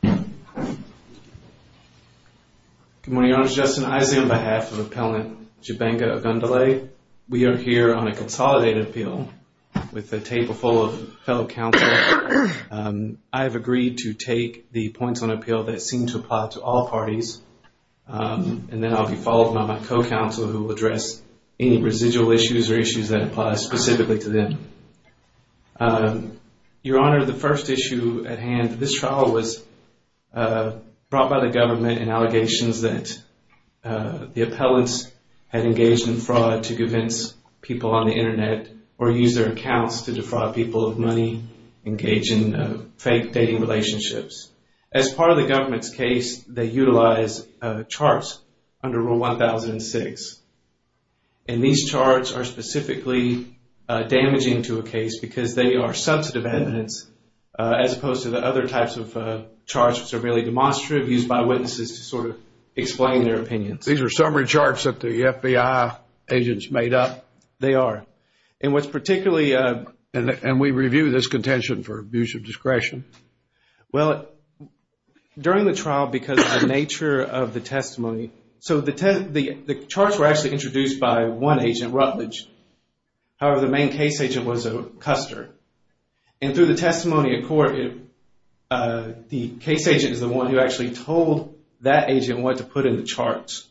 Good morning, I'm Justin Isaac on behalf of Appellant Jibenga Ogundole. We are here on a consolidated appeal with a table full of fellow counselors. I have agreed to take the points on appeal that seem to apply to all parties, and then I'll be followed by my co-counselor who will address any residual issues or issues that apply specifically to them. Your Honor, the first issue at hand, this trial was brought by the government in allegations that the appellants had engaged in fraud to convince people on the Internet or use their accounts to defraud people of money, engaging in fake dating relationships. As part of the government's case, they utilized charts under Rule 1006. And these charts are specifically damaging to a case because they are substantive evidence as opposed to the other types of charts that are really demonstrative, used by witnesses to sort of explain their opinions. These are summary charts that the FBI agents made up? They are. And what's particularly... And we review this contention for abuse of discretion. Well, during the trial, because of the nature of the testimony... So the charts were actually introduced by one agent, Rutledge. However, the main case agent was Custer. And through the testimony in court, the case agent is the one who actually told that agent what to put in the charts.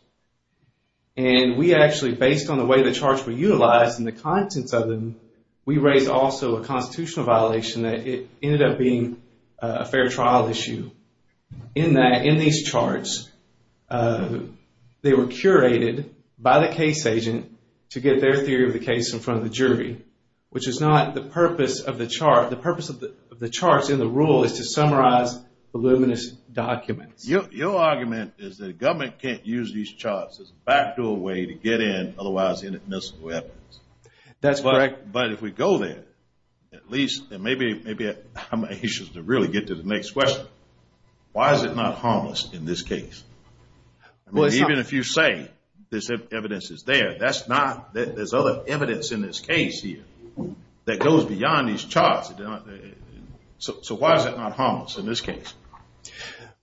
And we actually, based on the way the charts were utilized and the contents of them, we raised also a constitutional violation that it ended up being a fair trial issue. In these charts, they were curated by the case agent to get their theory of the case in front of the jury, which is not the purpose of the chart. The purpose of the charts in the rule is to summarize voluminous documents. Your argument is that government can't use these charts as a factual way to get in, otherwise, inoffensive weapons. That's correct. But if we go there, at least maybe I'm anxious to really get to the next question. Why is it not harmless in this case? Even if you say this evidence is there, that's not... There's other evidence in this case here that goes beyond these charts. So why is it not harmless in this case?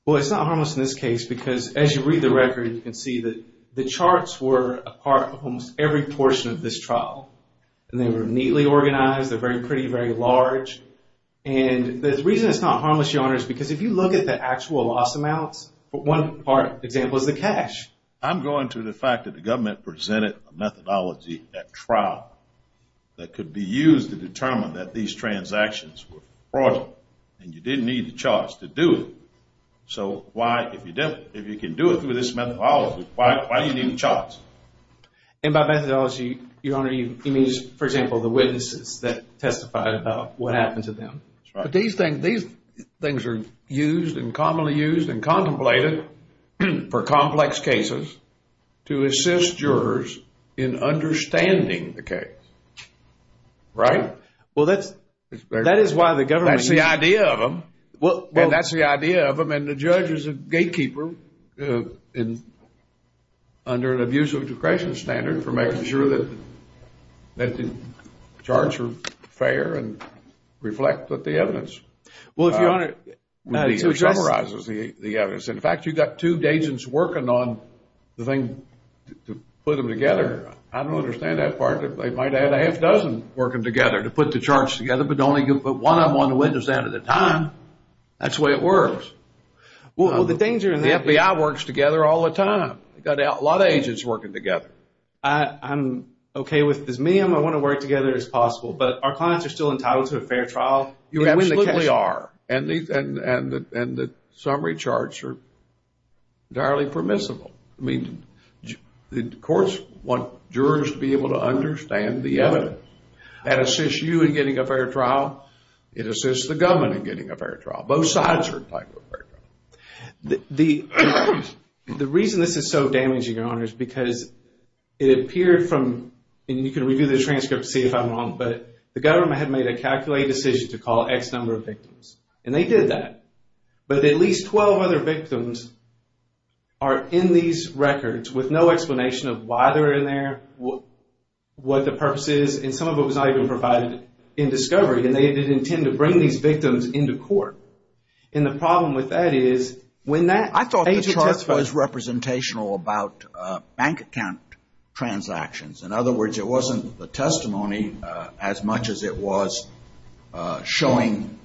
Well, it's not harmless in this case because, as you read the record, you can see that the charts were a part of almost every portion of this trial. And they were neatly organized. They're very pretty, very large. And the reason it's not harmless, Your Honor, is because if you look at the actual lost amounts, one example is the cash. I'm going to the fact that the government presented a methodology at trial that could be used to determine that these transactions were fraudulent, and you didn't need the charts to do it. So why, if you can do it through this methodology, why do you need the charts? And by methodology, Your Honor, you need, for example, the witnesses that testify about what happened to them. These things are used and commonly used and contemplated for complex cases to assist jurors in understanding the case. Right? Well, that is why the government... That's the idea of them. And that's the idea of them. And the judge is a gatekeeper under an abuse of discretion standard for making sure that the charts are fair and reflect the evidence. Well, Your Honor, it summarizes the evidence. In fact, you've got two agents working on the thing to put them together. I don't understand that part that they might have a heck dozen working together to put the charts together, but only put one of them on the witness end at a time. That's the way it works. Well, the thing is... The FBI works together all the time. You've got a lot of agents working together. I'm okay with this. Me, I'm going to want to work together as possible. But our clients are still entitled to a fair trial. You absolutely are. And the summary charts are entirely permissible. I mean, the courts want jurors to be able to understand the evidence. That assists you in getting a fair trial. It assists the government in getting a fair trial. Both sides are entitled to a fair trial. The reason this is so damaging, Your Honor, is because it appeared from, and you can review the transcript to see if I'm wrong, but the government had made a calculated decision to call X number of victims. And they did that. But at least 12 other victims are in these records with no explanation of why they're in there, what the purpose is. And some of it was not even provided in discovery. And they didn't intend to bring these victims into court. And the problem with that is when that... I thought the chart was representational about bank account transactions. In other words, it wasn't the testimony as much as it was showing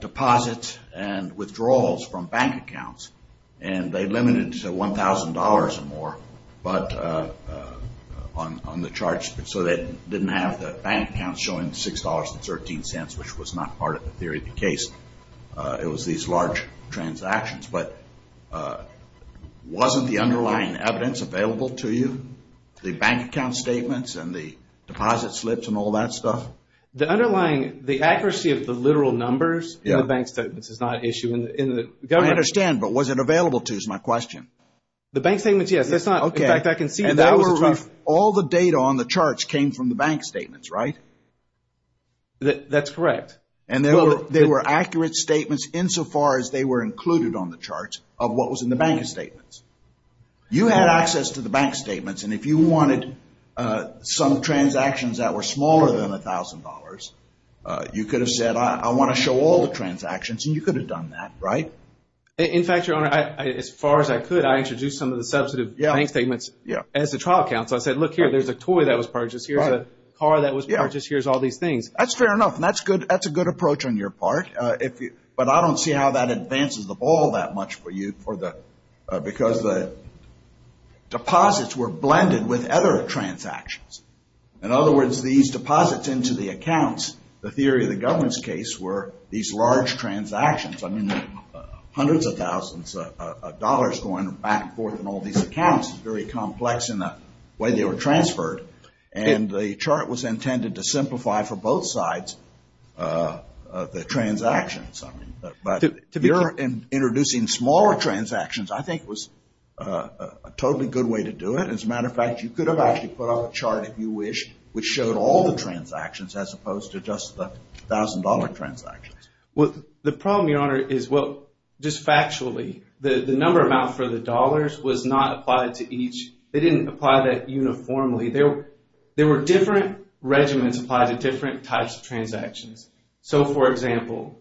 deposits and withdrawals from bank accounts. And they've limited it to $1,000 or more on the charts so they didn't have the bank accounts showing $6.13, which was not part of the theory of the case. It was these large transactions. But wasn't the underlying evidence available to you, the bank account statements and the deposit slips and all that stuff? The underlying, the accuracy of the literal numbers in the bank statements is not an issue. I understand, but was it available to, is my question. The bank statements, yes. All the data on the charts came from the bank statements, right? That's correct. They were accurate statements insofar as they were included on the charts of what was in the bank statements. You had access to the bank statements, and if you wanted some transactions that were smaller than $1,000, you could have said, I want to show all the transactions, and you could have done that, right? In fact, Your Honor, as far as I could, I introduced some of the substantive bank statements as the trial accounts. I said, look here, there's a toy that was purchased here, there's a car that was purchased here, there's all these things. That's fair enough, and that's a good approach on your part. But I don't see how that advances the ball that much for you because the deposits were blended with other transactions. In other words, these deposits into the accounts, the theory of the government's case, were these large transactions. I mean, hundreds of thousands of dollars going back and forth in all these accounts is very complex in the way they were transferred, and the chart was intended to simplify for both sides the transactions. But you're introducing smaller transactions, I think, was a totally good way to do it. As a matter of fact, you could have actually put up a chart if you wished which showed all the transactions as opposed to just the $1,000 transactions. The problem, Your Honor, is just factually, the number amount for the dollars was not applied to each. They didn't apply that uniformly. There were different regimens applied to different types of transactions. So, for example,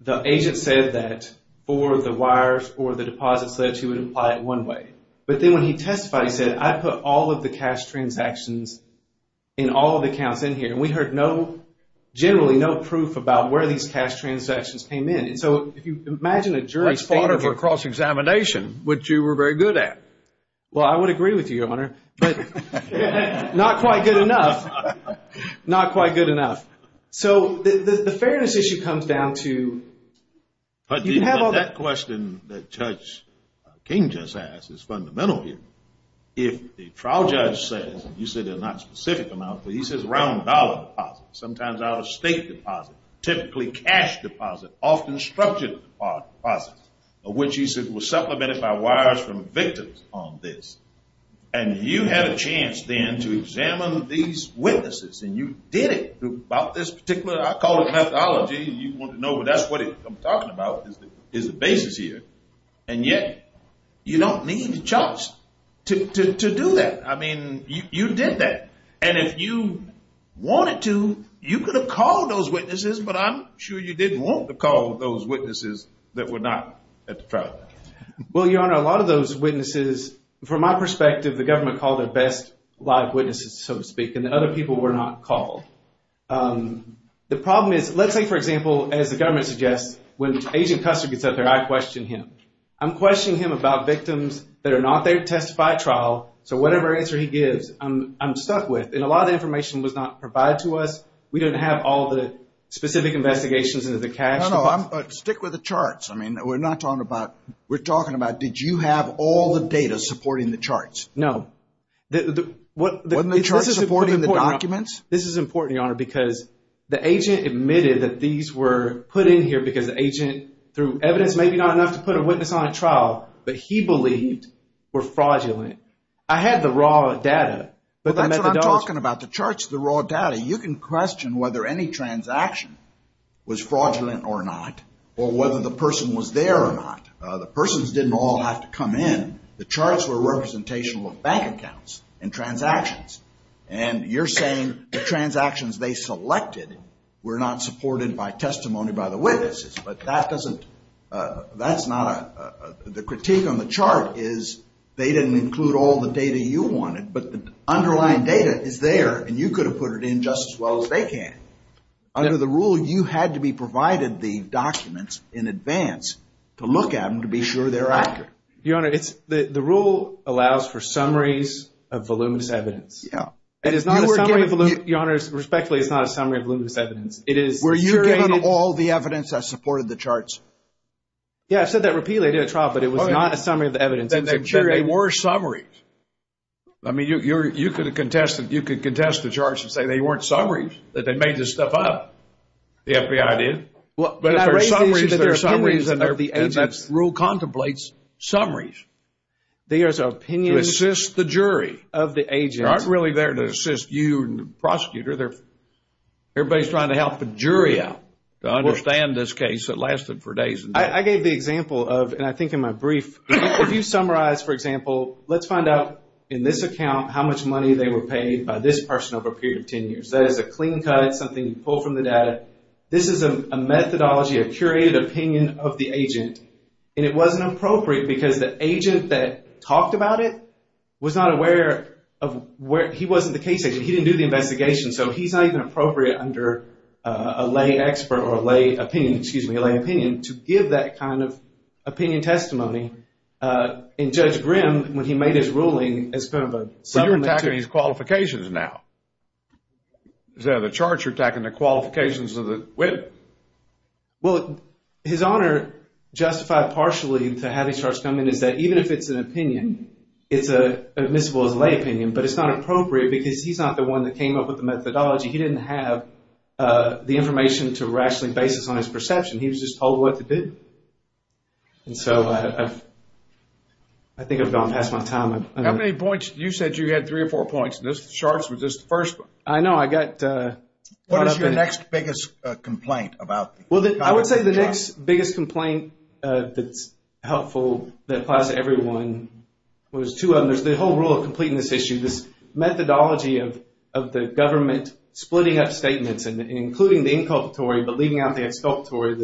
the agent said that for the wires, for the deposits, that he would apply it one way. But then when he testified, he said, I put all of the cash transactions in all of the accounts in here. And we heard generally no proof about where these cash transactions came in. So, if you imagine a jury standard... That's part of a cross-examination, which you were very good at. Well, I would agree with you, Your Honor. Not quite good enough. Not quite good enough. So the fairness issue comes down to... But that question that Judge King just asked is fundamental here. If the trial judge says, and you said there's not a specific amount, but he says around dollar deposits, sometimes out-of-state deposits, typically cash deposits, often structural deposits, of which he said was supplemented by wires from victims on this, and you had a chance then to examine these witnesses, and you did it about this particular... I call it methodology. You want to know, but that's what I'm talking about is the basis here. And yet, you don't need a judge to do that. I mean, you did that. And if you wanted to, you could have called those witnesses, but I'm sure you didn't want to call those witnesses that were not at the trial. Well, Your Honor, a lot of those witnesses, from my perspective, the government called the best live witnesses, so to speak, and the other people were not called. The problem is, let's say, for example, as the government suggests, when Agent Custer gets up there, I question him. I'm questioning him about victims that are not there to testify at trial, so whatever answer he gives, I'm stuck with. And a lot of information was not provided to us. We didn't have all the specific investigations into the case. No, no, stick with the charts. I mean, we're not talking about, we're talking about, did you have all the data supporting the charts? No. Wasn't the charts supporting the documents? This is important, Your Honor, because the agent admitted that these were put in here because the agent, through evidence, maybe not enough to put a witness on a trial, but he believes were fraudulent. I had the raw data. I'm talking about the charts, the raw data. You can question whether any transaction was fraudulent or not, or whether the person was there or not. The persons didn't all have to come in. The charts were representational of bank accounts and transactions, and you're saying the transactions they selected were not supported by testimony by the witnesses, but that doesn't, that's not a, the critique on the chart is they didn't include all the data you wanted, but the underlying data is there, and you could have put it in just as well as they can. Under the rule, you had to be provided the documents in advance to look at them to be sure they're accurate. Your Honor, the rule allows for summaries of voluminous evidence. Yeah. And it's not a summary of voluminous, Your Honor, respectfully, it's not a summary of voluminous evidence. Were you giving all the evidence that supported the charts? Yeah, I said that repeatedly at the top, but it was not a summary of the evidence. They were summaries. I mean, you could contest the charts and say they weren't summaries, that they made this stuff up, the FBI did. But they're summaries. The rule contemplates summaries. There's an opinion of the agent. To assist the jury. They're not really there to assist you and the prosecutor. Everybody's trying to help the jury out to understand this case that lasted for days. I gave the example of, and I think in my brief, if you summarize, for example, let's find out in this account how much money they were paid by this person over a period of 10 years. That is a clean cut, something pulled from the data. This is a methodology, a curated opinion of the agent, and it wasn't appropriate because the agent that talked about it was not aware of where he was in the case. He didn't do the investigation. So he's not even appropriate under a lay expert or a lay opinion, excuse me, a lay opinion to give that kind of opinion testimony. And Judge Grimm, when he made his ruling, it's kind of a summary. So you're attacking his qualifications now. Is there a charge you're attacking the qualifications of the witness? Well, his Honor justified partially to have a charge. Something is that even if it's an opinion, it's admissible as a lay opinion, but it's not appropriate because he's not the one that came up with the methodology. He didn't have the information to rationally basis on his perception. He was just told what to do. And so I think I've gone past my time. How many points? You said you had three or four points, and this charge was just the first one. I know. What was your next biggest complaint about? Well, I would say the next biggest complaint that's helpful that applies to everyone was two of them. The whole rule of completeness issue, this methodology of the government splitting up statements and including the inculpatory but leaving out the exculpatory,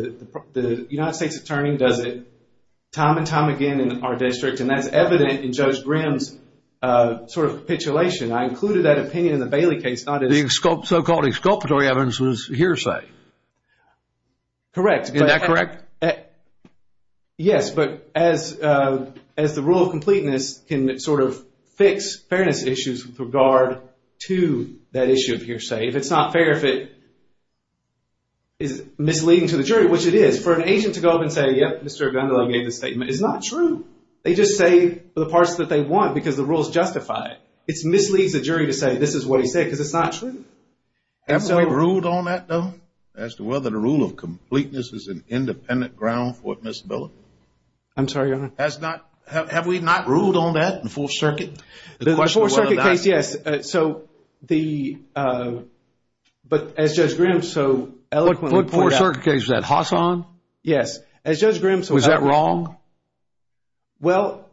the United States Attorney does it time and time again in our district, and that's evident in Judge Grimm's sort of titulation. I included that opinion in the Bailey case. The so-called exculpatory evidence was hearsay. Correct. Is that correct? Yes. But as the rule of completeness can sort of fix fairness issues with regard to that issue of hearsay, it's not fair if it is misleading to the jury, which it is. For an agent to go up and say, yes, Mr. Gundelow made this statement, is not true. They just say the parts that they want because the rules justify it. It misleads the jury to say this is what he said because it's not true. Have we ruled on that, though, as to whether the rule of completeness is an independent ground for admissibility? I'm sorry, Your Honor. Have we not ruled on that in Fourth Circuit? The Fourth Circuit case, yes. But as Judge Grimm so eloquently put out – What Fourth Circuit case was that, Hassan? Yes. Was that wrong? Well,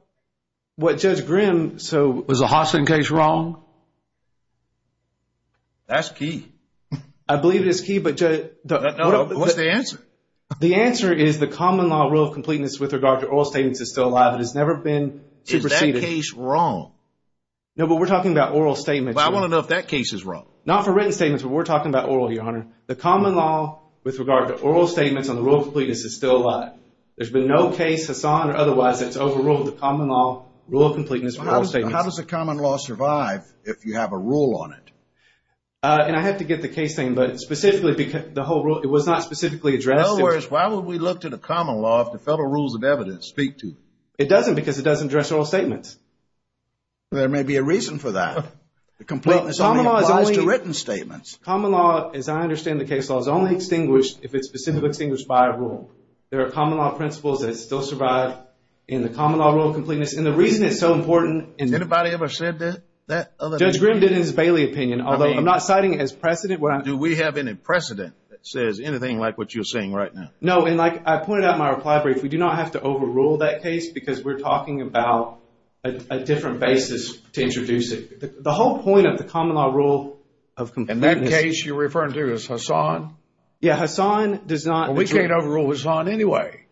what Judge Grimm – Was the Hassan case wrong? That's key. I believe it's key, but – What's the answer? The answer is the common law rule of completeness with regard to oral statements is still alive. It has never been superseded. Is that case wrong? No, but we're talking about oral statements. But I want to know if that case is wrong. Not for written statements, but we're talking about oral, Your Honor. The common law with regard to oral statements on the rule of completeness is still alive. There's been no case, Hassan or otherwise, that's overruled the common law rule of completeness. How does the common law survive? If you have a rule on it. And I have to get the case thing, but specifically the whole rule, it was not specifically addressed. In other words, why would we look to the common law if the federal rules of evidence speak to it? It doesn't because it doesn't address oral statements. There may be a reason for that. The completeness only applies to written statements. Common law, as I understand the case law, is only extinguished if it's specifically extinguished by a rule. There are common law principles that still survive in the common law rule of completeness. And the reason it's so important – Has anybody ever said that? Judge Grim did in his Bailey opinion, although I'm not citing it as precedent. Do we have any precedent that says anything like what you're saying right now? No, and like I pointed out in my reply brief, we do not have to overrule that case because we're talking about a different basis to introduce it. The whole point of the common law rule of completeness – And that case you're referring to is Hassan? Yeah, Hassan does not – Well, we can't overrule Hassan anyway.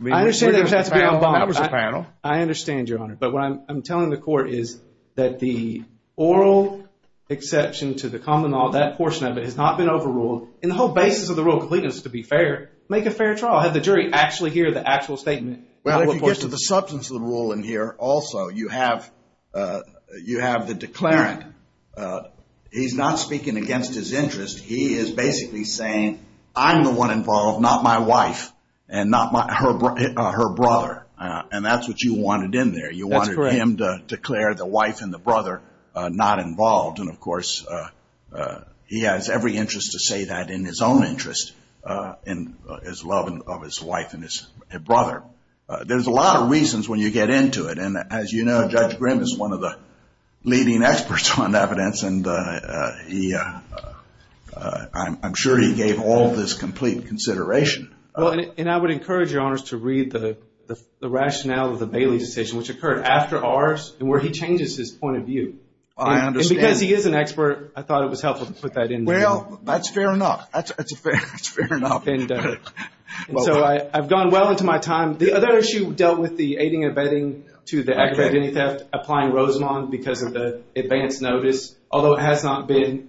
I understand – That was a panel. I understand, Your Honor. But what I'm telling the court is that the oral exception to the common law, that portion of it has not been overruled. And the whole basis of the rule of completeness, to be fair, make a fair trial. Have the jury actually hear the actual statement. Well, if you get to the substance of the rule in here also, you have the declarant. He's not speaking against his interest. He is basically saying, I'm the one involved, not my wife and not her brother. And that's what you wanted in there. That's correct. You wanted him to declare the wife and the brother not involved. And, of course, he has every interest to say that in his own interest, in his love of his wife and his brother. There's a lot of reasons when you get into it. And, as you know, Judge Grimm is one of the leading experts on evidence. And I'm sure he gave all this complete consideration. Well, and I would encourage your honors to read the rationale of the Bailey decision, which occurred after ours and where he changes his point of view. I understand. And because he is an expert, I thought it was helpful to put that in there. Well, that's fair enough. That's fair enough. So I've gone well into my time. The other issue dealt with the aiding and abetting to the ex-identity theft applying Rosamond because of the advance notice. Although it has not been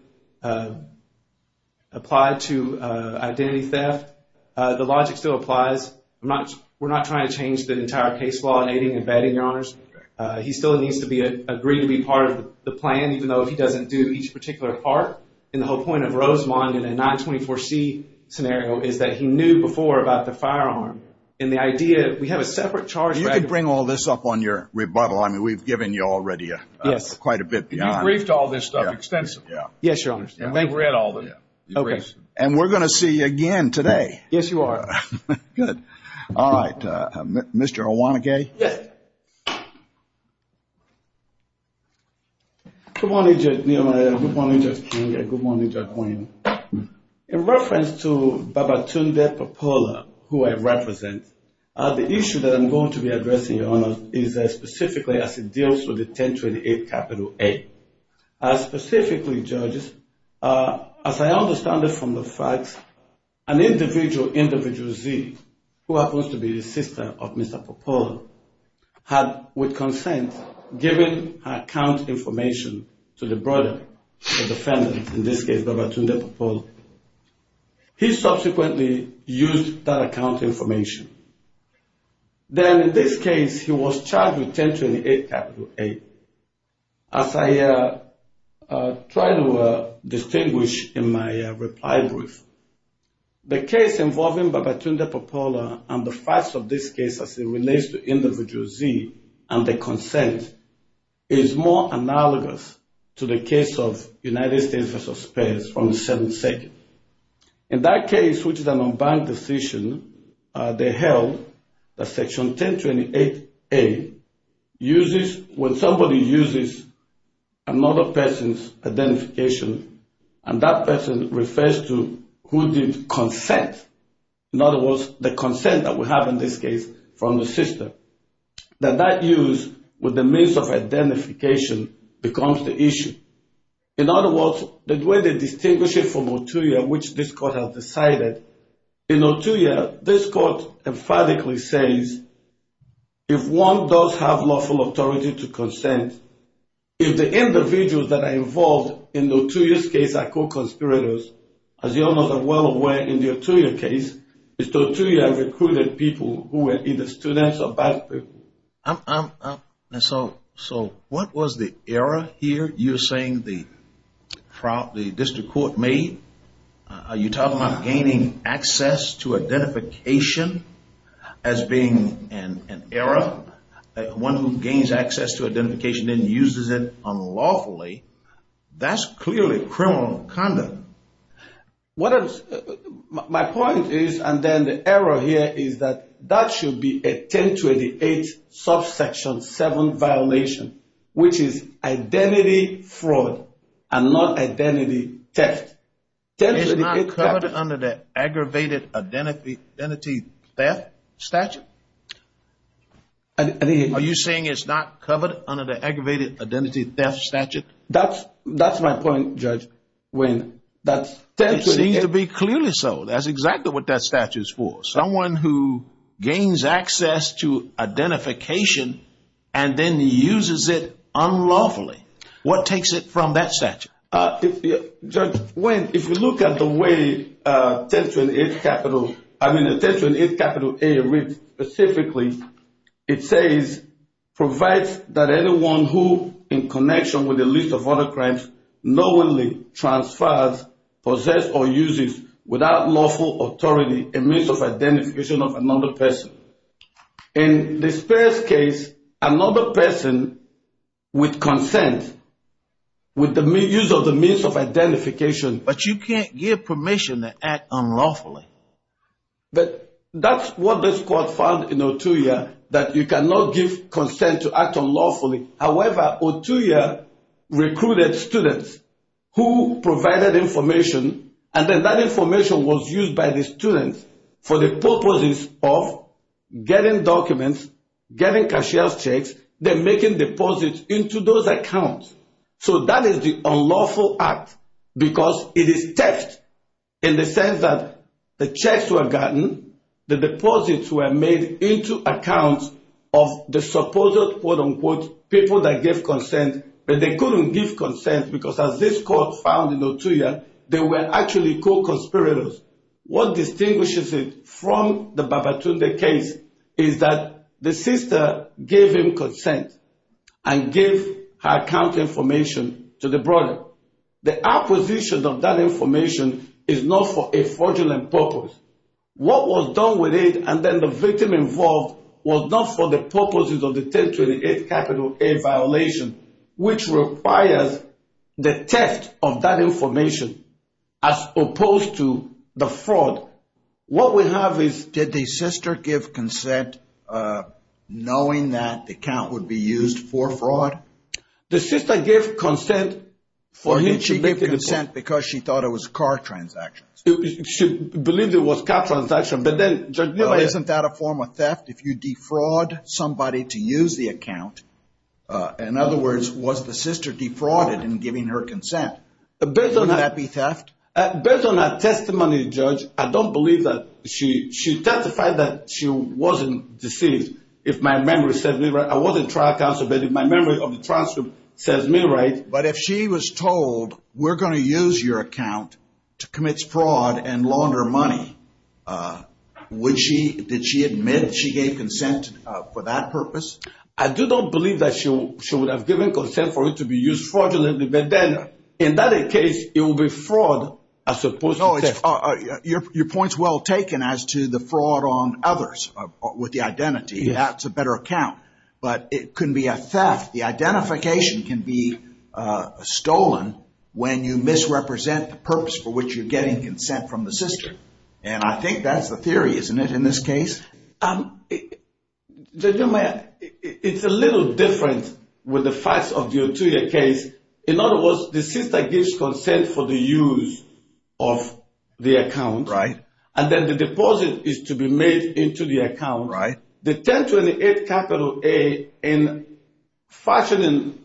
applied to identity theft, the logic still applies. We're not trying to change the entire case law in aiding and abetting, your honors. He still needs to agree to be part of the plan, even though he doesn't do each particular part. And the whole point of Rosamond in a 924C scenario is that he knew before about the firearm. And the idea, we have a separate charge. You can bring all this up on your rebuttal. I mean, we've given you already quite a bit, your honors. You briefed all this stuff extensively. Yes, your honors. And we're going to see you again today. Yes, you are. Good. All right. Mr. Owanage? Yes. Good morning, Judge Keeley and good morning, Judge Wayne. In reference to Babatunde Popola, who I represent, the issue that I'm going to be addressing, your honors, is specifically as it deals with the 1028 capital A. Specifically, judges, as I understand it from the facts, an individual, individual Z, who happens to be the sister of Mr. Popola, had, with consent, given account information to the brother, the defendant, in this case, Babatunde Popola. He subsequently used that account information. Then, in this case, he was charged with 1028 capital A. As I try to distinguish in my reply brief, the case involving Babatunde Popola and the facts of this case as it relates to individual Z and their consent, is more analogous to the case of United States v. Spares on the Seventh Circuit. In that case, which is an unbiased decision, they held that Section 1028A uses, when somebody uses another person's identification, and that person refers to who gives consent, in other words, the consent that we have in this case from the sister, that that use with the means of identification becomes the issue. In other words, the way they distinguish it from Otuya, which this court has decided, in Otuya, this court emphatically says, if one does have lawful authority to consent, if the individuals that are involved in Otuya's case are co-conspirators, as you all know well away in the Otuya case, it's the Otuya recruited people who were either students or faculty. So what was the error here you're saying the district court made? Are you talking about gaining access to identification as being an error? One who gains access to identification and uses it unlawfully, that's clearly criminal conduct. My point is, and then the error here is that that should be a 1028A subsection 7 violation, which is identity fraud and not identity theft. It's not covered under the aggravated identity theft statute? Are you saying it's not covered under the aggravated identity theft statute? That's my point, Judge. It seems to be clearly so. That's exactly what that statute is for. Someone who gains access to identification and then uses it unlawfully. What takes it from that statute? Judge, if you look at the way 1028A reads specifically, it says provides that anyone who, in connection with a list of other crimes, knowingly transfers, possesses or uses, without lawful authority, a means of identification of another person. In this first case, another person with consent, with the use of the means of identification. But you can't give permission to act unlawfully. That's what this court found in Otuya, that you cannot give consent to act unlawfully. However, Otuya recruited students who provided information, and then that information was used by the students for the purposes of getting documents, getting cashier's checks, then making deposits into those accounts. So that is the unlawful act because it is theft in the sense that the checks were gotten, the deposits were made into accounts of the supposed quote-unquote people that gave consent, but they couldn't give consent because as this court found in Otuya, they were actually co-conspirators. What distinguishes it from the Babatunde case is that the sister gave him consent and gave her account information to the brother. The acquisition of that information is not for a fraudulent purpose. What was done with it and then the victim involved was not for the purposes of the theft of that information as opposed to the fraud. What we have is did the sister give consent knowing that the account would be used for fraud? The sister gave consent because she thought it was a car transaction. She believed it was a car transaction. But then isn't that a form of theft if you defraud somebody to use the account? In other words, was the sister defrauded in giving her consent? Could that be theft? Based on that testimony, Judge, I don't believe that. She testified that she wasn't deceived. If my memory says me right, I wasn't trial counsel, but if my memory of the trial says me right, but if she was told, we're going to use your account to commit fraud and launder money, did she admit she gave consent for that purpose? I do not believe that she would have given consent for it to be used fraudulently. But then, in that case, it would be fraud as opposed to theft. Your point's well taken as to the fraud on others with the identity. That's a better account. But it can be a theft. The identification can be stolen when you misrepresent the purpose for which you're getting consent from the sister. I think that's the theory, isn't it, in this case? Judge Amaya, it's a little different with the facts of the Otuya case. In other words, the sister gives consent for the use of the account. Right. And then the deposit is to be made into the account. Right. The 1028 capital A, in fashioning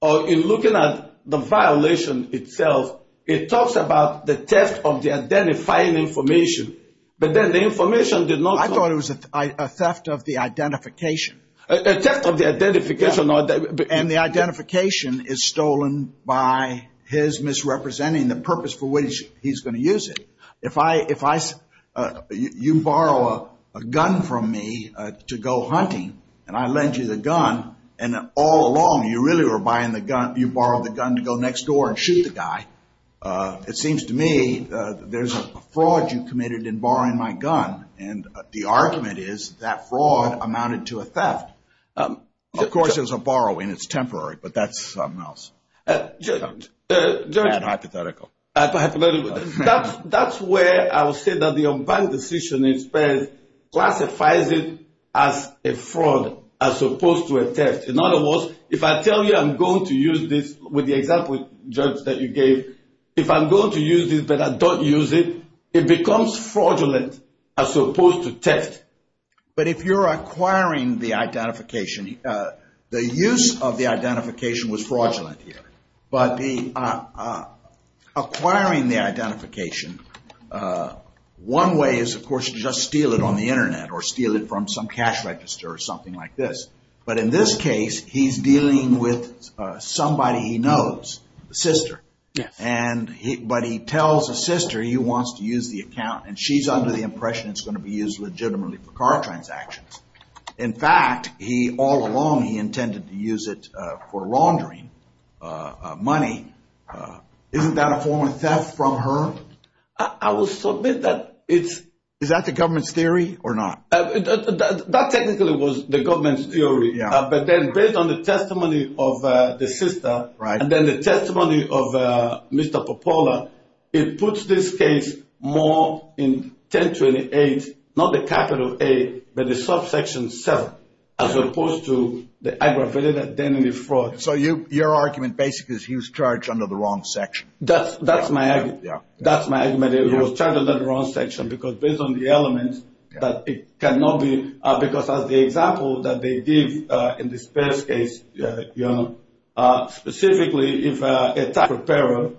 or in looking at the violation itself, it talks about the theft of the identifying information. I thought it was a theft of the identification. A theft of the identification. And the identification is stolen by his misrepresenting the purpose for which he's going to use it. If you borrow a gun from me to go hunting, and I lend you the gun, and all along you really were buying the gun, you borrowed the gun to go next door and shoot the guy, it seems to me there's a fraud you've committed in borrowing my gun, and the argument is that fraud amounted to a theft. Of course, there's a borrowing. It's temporary, but that's something else. Hypothetical. Hypothetical. That's where I would say that the Ombudsman's decision instead classifies it as a fraud, as opposed to a theft. In other words, if I tell you I'm going to use this with the example that you gave, if I'm going to use this but I don't use it, it becomes fraudulent as opposed to theft. But if you're acquiring the identification, the use of the identification was fraudulent here. But acquiring the identification, one way is, of course, to just steal it on the Internet or steal it from some cash register or something like this. But in this case, he's dealing with somebody he knows, a sister. But he tells his sister he wants to use the account, and she's under the impression it's going to be used legitimately for car transactions. In fact, all along he intended to use it for laundering money. Isn't that a form of theft from her? I will submit that it's- Is that the government's theory or not? That technically was the government's theory. But then based on the testimony of the sister and then the testimony of Mr. Popola, it puts this case more in 1028, not the capital A, but the subsection 7, as opposed to the aggravated identity fraud. So your argument basically is he was charged under the wrong section. That's my argument. He was charged under the wrong section because based on the elements that it cannot be- because as the example that they did in this first case, specifically if a tax preparer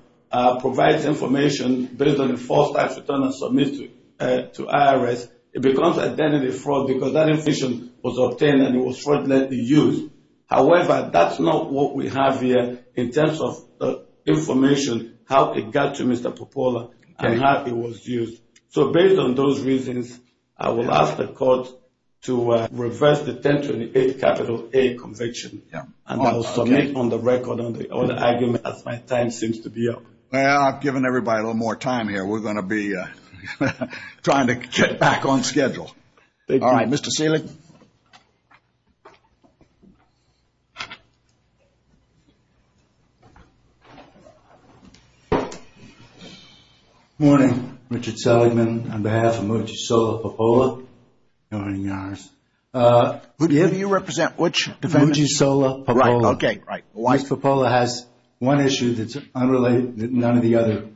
provides information based on a false tax return that's submitted to IRS, it becomes identity fraud because that information was obtained and it was fraudulently used. However, that's not what we have here in terms of the information, how it got to Mr. Popola and how it was used. So based on those reasons, I will ask the court to reverse the 1028 capital A conviction. And I will submit on the record all the arguments that my time seems to be up. Well, I've given everybody a little more time here. We're going to be trying to get back on schedule. All right. Mr. Selig? Good morning. Richard Seligman on behalf of Mogi Sola Popola. Who do you represent? Mogi Sola Popola. Right, okay, right. Mogi Sola Popola has one issue that's unrelated that none of the other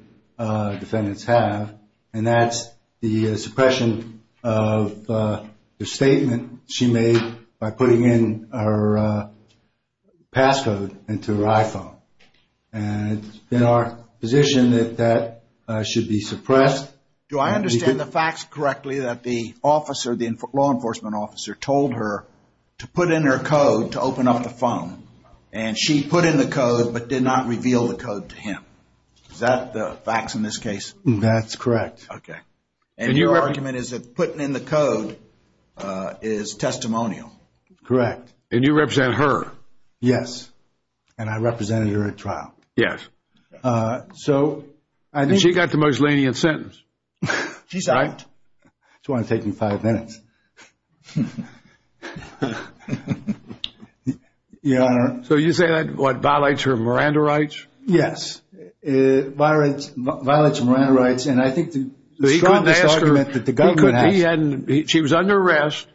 defendants have, and that's the suppression of the statement she made by putting in her passcode into her iPhone. And it's in our position that that should be suppressed. Do I understand the facts correctly that the officer, the law enforcement officer, told her to put in her code to open up the phone, and she put in the code but did not reveal the code to him? Is that the facts in this case? That's correct. Okay. And your argument is that putting in the code is testimonial? Correct. And you represent her? Yes, and I represented her at trial. Yes. So she got the most lenient sentence, right? She's out. That's why it's taking five minutes. So you say that, what, violates her Miranda rights? Yes, violates her Miranda rights. And I think the strongest argument that the government has. She was under arrest.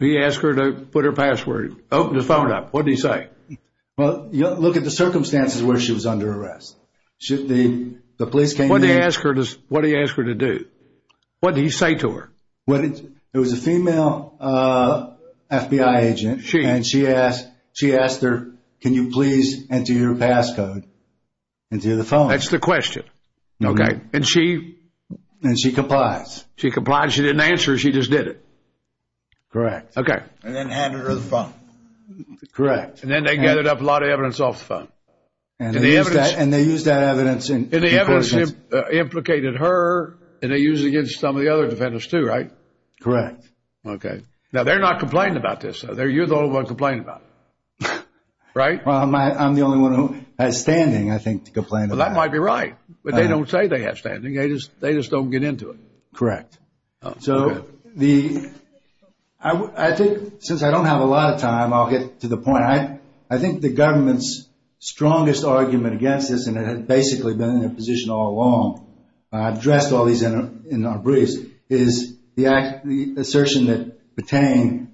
He asked her to put her password, open the phone up. What did he say? Well, look at the circumstances where she was under arrest. The police came in. What did he ask her to do? What did he say to her? It was a female FBI agent, and she asked her, can you please enter your passcode into the phone? That's the question. Okay. And she? And she complied. She complied. She didn't answer. She just did it. Correct. Okay. And then handed her the phone. Correct. And then they gathered up a lot of evidence off the phone. And they used that evidence. And the evidence implicated her, and they used it against some of the other defendants too, right? Correct. Okay. Now, they're not complaining about this. You're the only one complaining about it. Right? Well, I'm the only one who has standing, I think, to complain about it. Well, that might be right. But they don't say they have standing. They just don't get into it. Correct. So I think, since I don't have a lot of time, I'll get to the point. I think the government's strongest argument against this, and it has basically been in position all along, and I've addressed all these in our briefs, is the assertion that Patain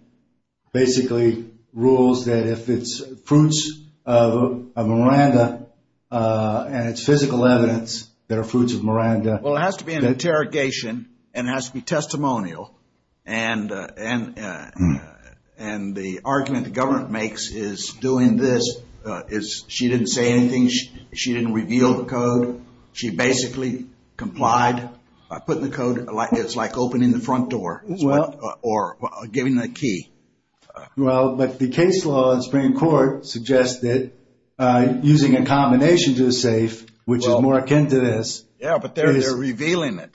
basically rules that if it's fruits of Miranda and it's physical evidence, they're fruits of Miranda. Well, it has to be an interrogation and it has to be testimonial. And the argument the government makes is doing this is she didn't say anything, she didn't reveal the code. She basically complied by putting the code, it's like opening the front door or giving the key. Well, but the case law in the Supreme Court suggests that using a combination to the safe, which is more akin to this. Yeah, but they're revealing it.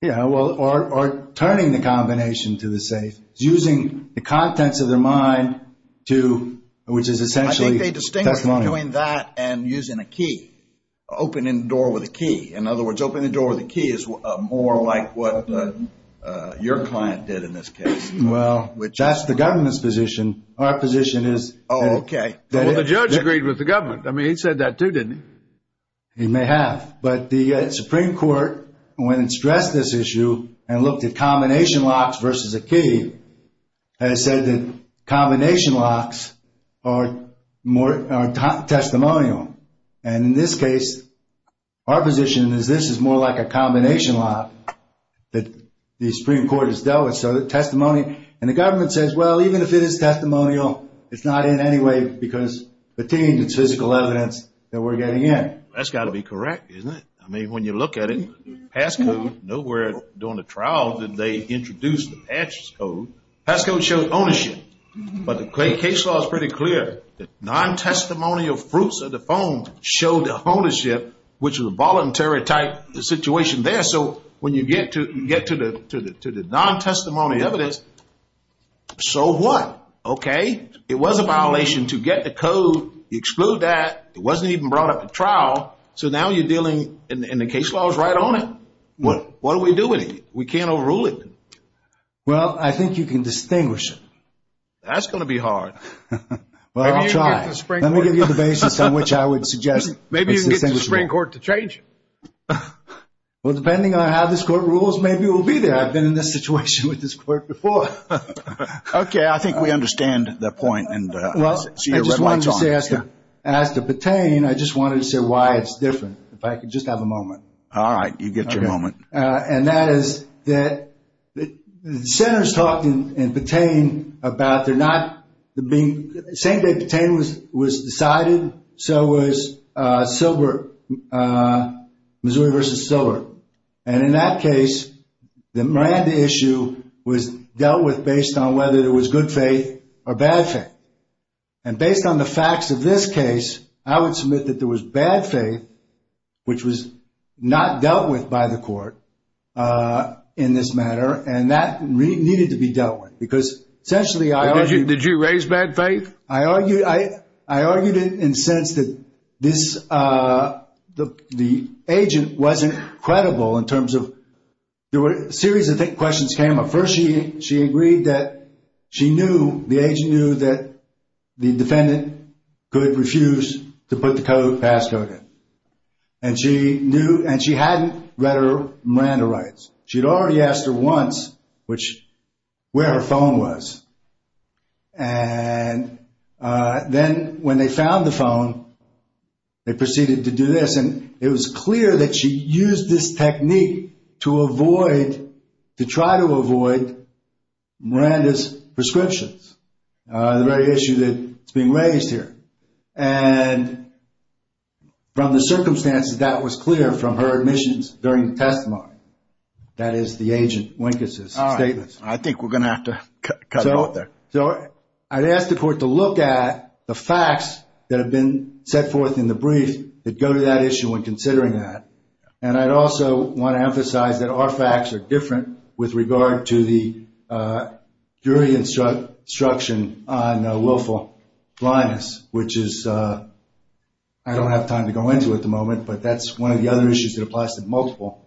Yeah, well, or turning the combination to the safe, using the contents of their mind to, which is essentially testimony. I think they distinguish between that and using a key. Opening the door with a key. In other words, opening the door with a key is more like what your client did in this case. Well, that's the government's position. Our position is that the judge agreed with the government. I mean, he said that too, didn't he? He may have. But the Supreme Court, when it stressed this issue and looked at combination locks versus a key, has said that combination locks are testimonial. And in this case, our position is this is more like a combination lock that the Supreme Court has dealt with. So testimony. And the government says, well, even if it is testimonial, it's not in anyway because the team's physical evidence that we're getting in. That's got to be correct, isn't it? I mean, when you look at it, pass code, nowhere during the trial did they introduce the pass code. Pass code shows ownership. But the case law is pretty clear. The non-testimonial proofs of the phone show the ownership, which is a voluntary type situation there. So when you get to the non-testimony evidence, so what? Okay. It was a violation to get the code. You exclude that. It wasn't even brought up for trial. So now you're dealing and the case law is right on it. What do we do with it? We can't overrule it. Well, I think you can distinguish it. That's going to be hard. Well, I'll try. Let me give you the basis on which I would suggest. Maybe you can get the Supreme Court to change it. Well, depending on how this court rules, maybe we'll be there. I've been in this situation with this court before. Okay. I think we understand the point. Well, I just wanted to say, as to pertain, I just wanted to say why it's different, if I could just have a moment. All right. You get your moment. And that is that the senators talked and pertained about the not being – the same way pertain was decided, so was silver, Missouri versus silver. And in that case, the Miranda issue was dealt with based on whether it was good faith or bad faith. And based on the facts of this case, I would submit that there was bad faith, which was not dealt with by the court in this matter, and that needed to be dealt with. Did you raise bad faith? I argued it in the sense that the agent wasn't credible in terms of – a series of questions came up. First, she agreed that she knew, the agent knew, that the defendant could refuse to put the code past her. And she knew – and she hadn't read her Miranda rights. She had already asked her once where her phone was. And then when they found the phone, they proceeded to do this. And it was clear that she used this technique to avoid – to try to avoid Miranda's prescriptions. The very issue that's being raised here. And from the circumstances, that was clear from her admissions during the testimony. That is the agent Winkes' statement. All right. I think we're going to have to cut it out there. So I'd ask the court to look at the facts that have been set forth in the brief that go to that issue when considering that. And I'd also want to emphasize that our facts are different with regard to the pre-instruction on willful blindness, which is – I don't have time to go into it at the moment, but that's one of the other issues that applies to multiple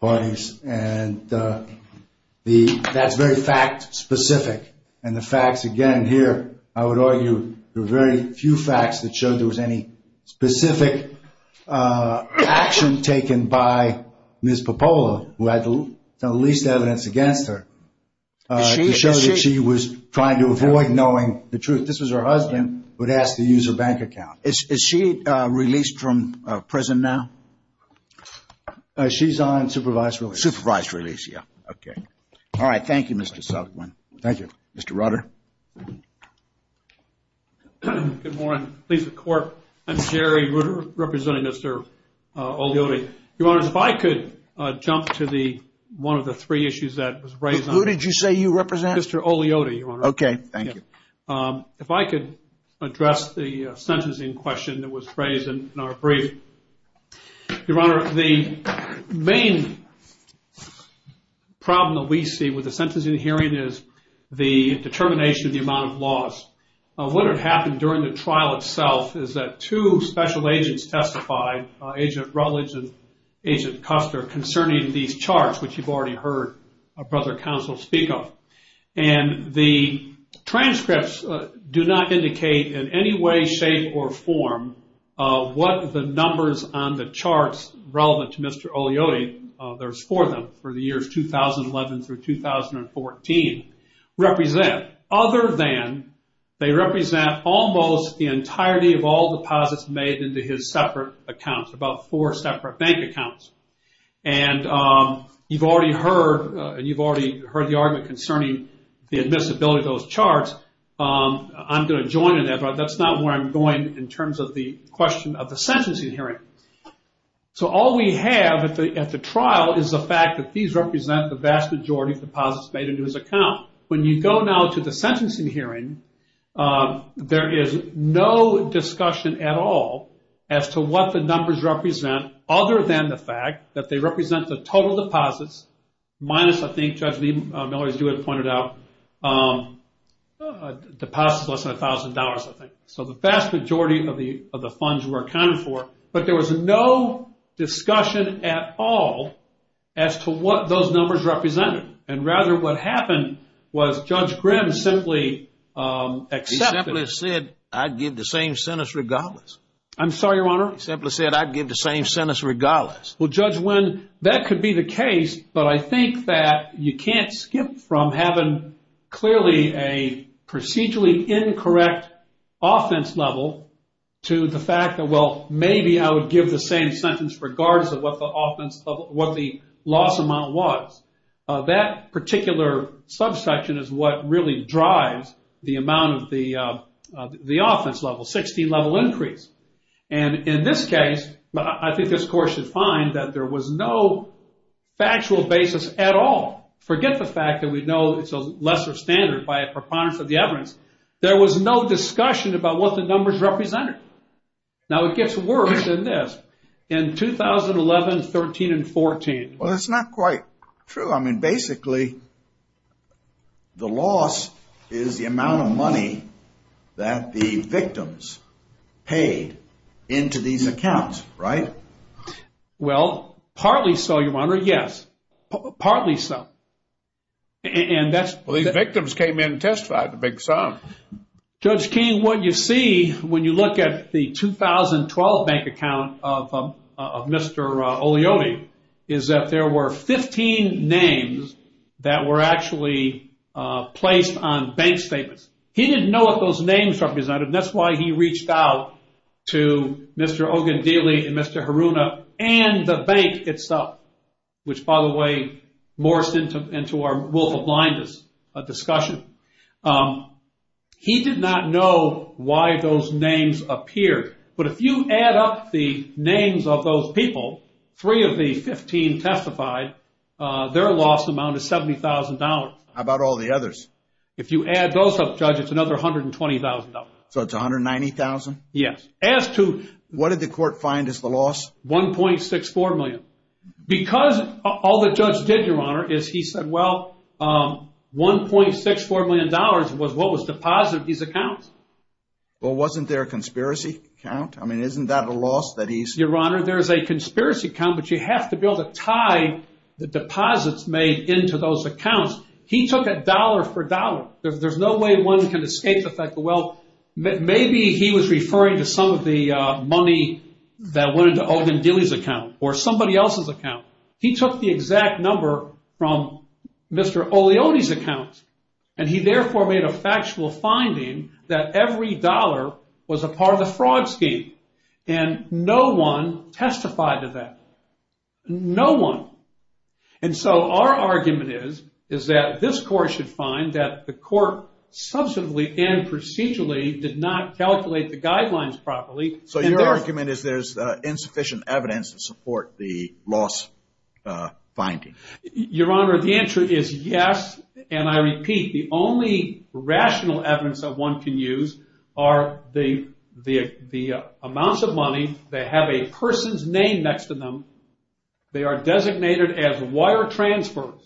parties. And that's very fact-specific. And the facts, again, here, I would argue there are very few facts that show there was any specific action taken by Ms. Popola who had the least evidence against her. To show that she was trying to avoid knowing the truth. This was her husband who had asked to use her bank account. Is she released from prison now? She's on supervised release. Supervised release, yeah. Okay. All right. Thank you, Mr. Southerland. Thank you. Mr. Rutter. Good morning. This is the court. I'm Jerry. We're representing Mr. O'Leary. Your Honor, if I could jump to one of the three issues that was raised. Who did you say you represent? Mr. O'Leary, Your Honor. Okay. Thank you. If I could address the sentencing question that was raised in our brief. Your Honor, the main problem that we see with the sentencing hearing is the determination of the amount of loss. What had happened during the trial itself is that two special agents testified, Agent Rutledge and Agent Custer, concerning these charts, which you've already heard Brother Counsel speak of. And the transcripts do not indicate in any way, shape, or form what the numbers on the charts relevant to Mr. O'Leary, there's four of them, for the years 2011 through 2014, represent. Other than they represent almost the entirety of all deposits made into his separate accounts, about four separate bank accounts. And you've already heard the argument concerning the admissibility of those charts. I'm going to join in that, Brother. That's not where I'm going in terms of the question of the sentencing hearing. So all we have at the trial is the fact that these represent the vast majority of deposits made into his account. When you go now to the sentencing hearing, there is no discussion at all as to what the numbers represent, other than the fact that they represent the total deposits minus, I think, Judge Miller pointed out, deposits less than $1,000, I think. So the vast majority of the funds were accounted for. But there was no discussion at all as to what those numbers represented. And, rather, what happened was Judge Grimm simply accepted. He simply said, I'd give the same sentence regardless. I'm sorry, Your Honor? He simply said, I'd give the same sentence regardless. Well, Judge Wynn, that could be the case, but I think that you can't skip from having clearly a procedurally incorrect offense level to the fact that, well, maybe I would give the same sentence regardless of what the loss amount was. That particular subsection is what really drives the amount of the offense level, 16-level increase. And, in this case, I think this Court should find that there was no factual basis at all. Forget the fact that we know it's a lesser standard by a preponderance of the evidence. There was no discussion about what the numbers represented. Now, it gets worse than this. In 2011, 13, and 14. Well, that's not quite true. I mean, basically, the loss is the amount of money that the victims paid into these accounts, right? Well, partly so, Your Honor, yes. Partly so. Well, these victims came in and testified, the big sum. Judge King, what you see when you look at the 2012 bank account of Mr. Oleone is that there were 15 names that were actually placed on bank statements. He didn't know what those names represented, and that's why he reached out to Mr. Ogundile and Mr. Haruna and the bank itself, which, by the way, Morris and to our Wolf of Blindness, a discussion. He did not know why those names appeared. But if you add up the names of those people, three of the 15 testified, their loss amounted to $70,000. How about all the others? If you add those up, Judge, it's another $120,000. So it's $190,000? Yes. What did the court find as the loss? $1.64 million. Because all the judge did, Your Honor, is he said, well, $1.64 million was what was deposited in these accounts. Well, wasn't there a conspiracy account? I mean, isn't that a loss that he's ---- Your Honor, there's a conspiracy account, but you have to be able to tie the deposits made into those accounts. He took it dollar for dollar. There's no way one can escape the fact that, well, maybe he was referring to some of the money that went into Ogundile's account or somebody else's account. He took the exact number from Mr. Oleone's account, and he therefore made a factual finding that every dollar was a part of a fraud scheme, and no one testified to that. No one. And so our argument is that this court should find that the court subsequently and procedurally did not calculate the guidelines properly. So your argument is there's insufficient evidence to support the loss finding. Your Honor, the answer is yes, and I repeat the only rational evidence that one can use are the amounts of money that have a person's name next to them. They are designated as wire transfers.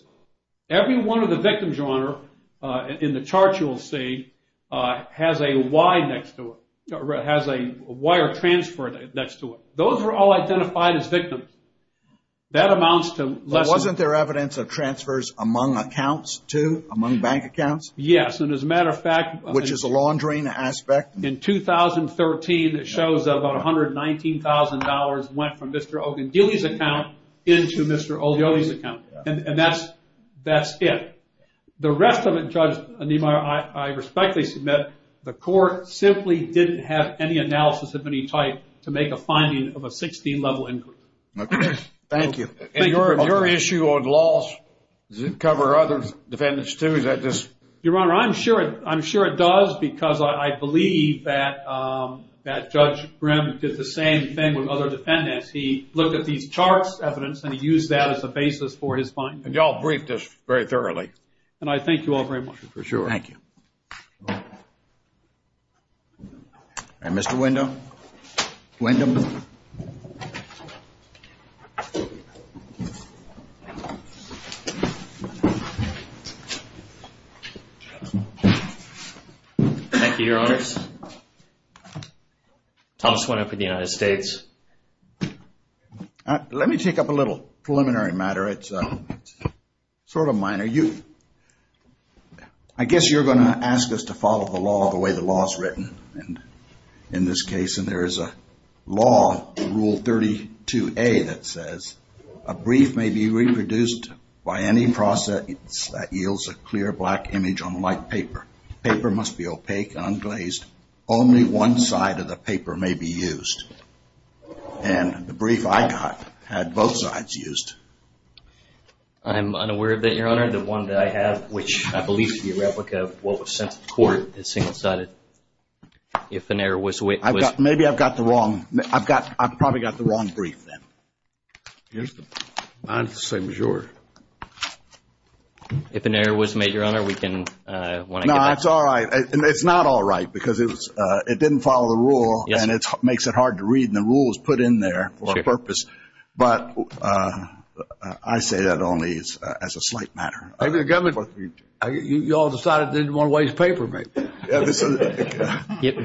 Every one of the victims, your Honor, in the chart you will see, has a Y next to it, has a wire transfer next to it. Those were all identified as victims. That amounts to less than ---- Yes, and as a matter of fact ---- Which is the laundering aspect. In 2013, it shows about $119,000 went from Mr. Ogundile's account into Mr. Oleone's account, and that's it. The rest of it, Judge Anemar, I respectfully submit the court simply didn't have any analysis of any type to make a finding of a 16-level injury. Thank you. And your issue on loss, does it cover other defendants too? Your Honor, I'm sure it does because I believe that Judge Grimm did the same thing with other defendants. He looked at these charts, evidence, and he used that as a basis for his findings. And you all break this very thoroughly. And I thank you all very much. For sure. Thank you. And Mr. Windham? Windham? Thank you, Your Honor. I also went up in the United States. Let me take up a little preliminary matter. It's sort of minor. I guess you're going to ask us to follow the law the way the law is written in this case. And there is a law, Rule 32A, that says a brief may be reproduced by any process that yields a clear black image unlike paper. Paper must be opaque, unglazed. Only one side of the paper may be used. And the brief I got had both sides used. I'm unaware of that, Your Honor. The one that I have, which I believe is the replica of what was sent to court, is single-sided. If an error was made... Maybe I've got the wrong... I've probably got the wrong brief, then. Here's the... I'm the same as you are. If an error was made, Your Honor, we can... No, it's all right. It's not all right because it didn't follow the rule, and it makes it hard to read, and the rule was put in there for a purpose. But I say that only as a slight matter. You all decided you didn't want to waste paper, maybe.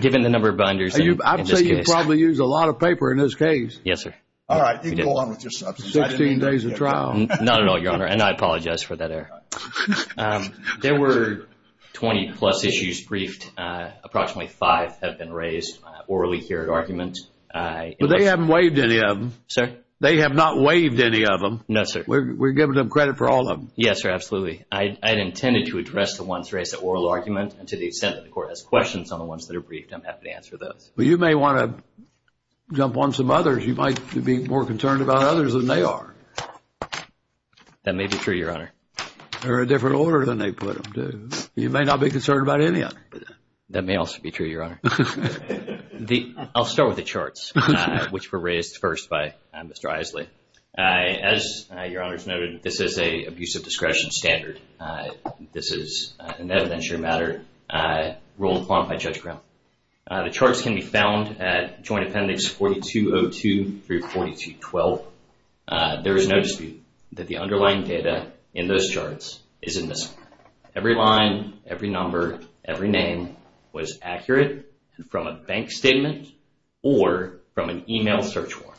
Given the number of binders... I'd say you probably used a lot of paper in this case. Yes, sir. All right. You can go on with your stuff. Sixteen days of trial. No, no, no, Your Honor, and I apologize for that error. There were 20-plus issues briefed. Approximately five have been raised, orally carried arguments. But they haven't waived any of them. Sir? They have not waived any of them. No, sir. We're giving them credit for all of them. Yes, sir, absolutely. I had intended to address the ones raised at oral argument, and to the extent that the Court has questions on the ones that are briefed, I'm happy to answer those. But you may want to jump on some others. You might be more concerned about others than they are. That may be true, Your Honor. They're a different order than they put them. You may not be concerned about any of them. That may also be true, Your Honor. I'll start with the charts, which were raised first by Mr. Isley. As Your Honor has noted, this is an abuse of discretion standard. This is an evidentiary matter ruled upon by Judge Brown. The charts can be found at Joint Appendix 4202 through 4212. There is no dispute that the underlying data in those charts is in this. Every line, every number, every name was accurate from a bank statement or from an email search form.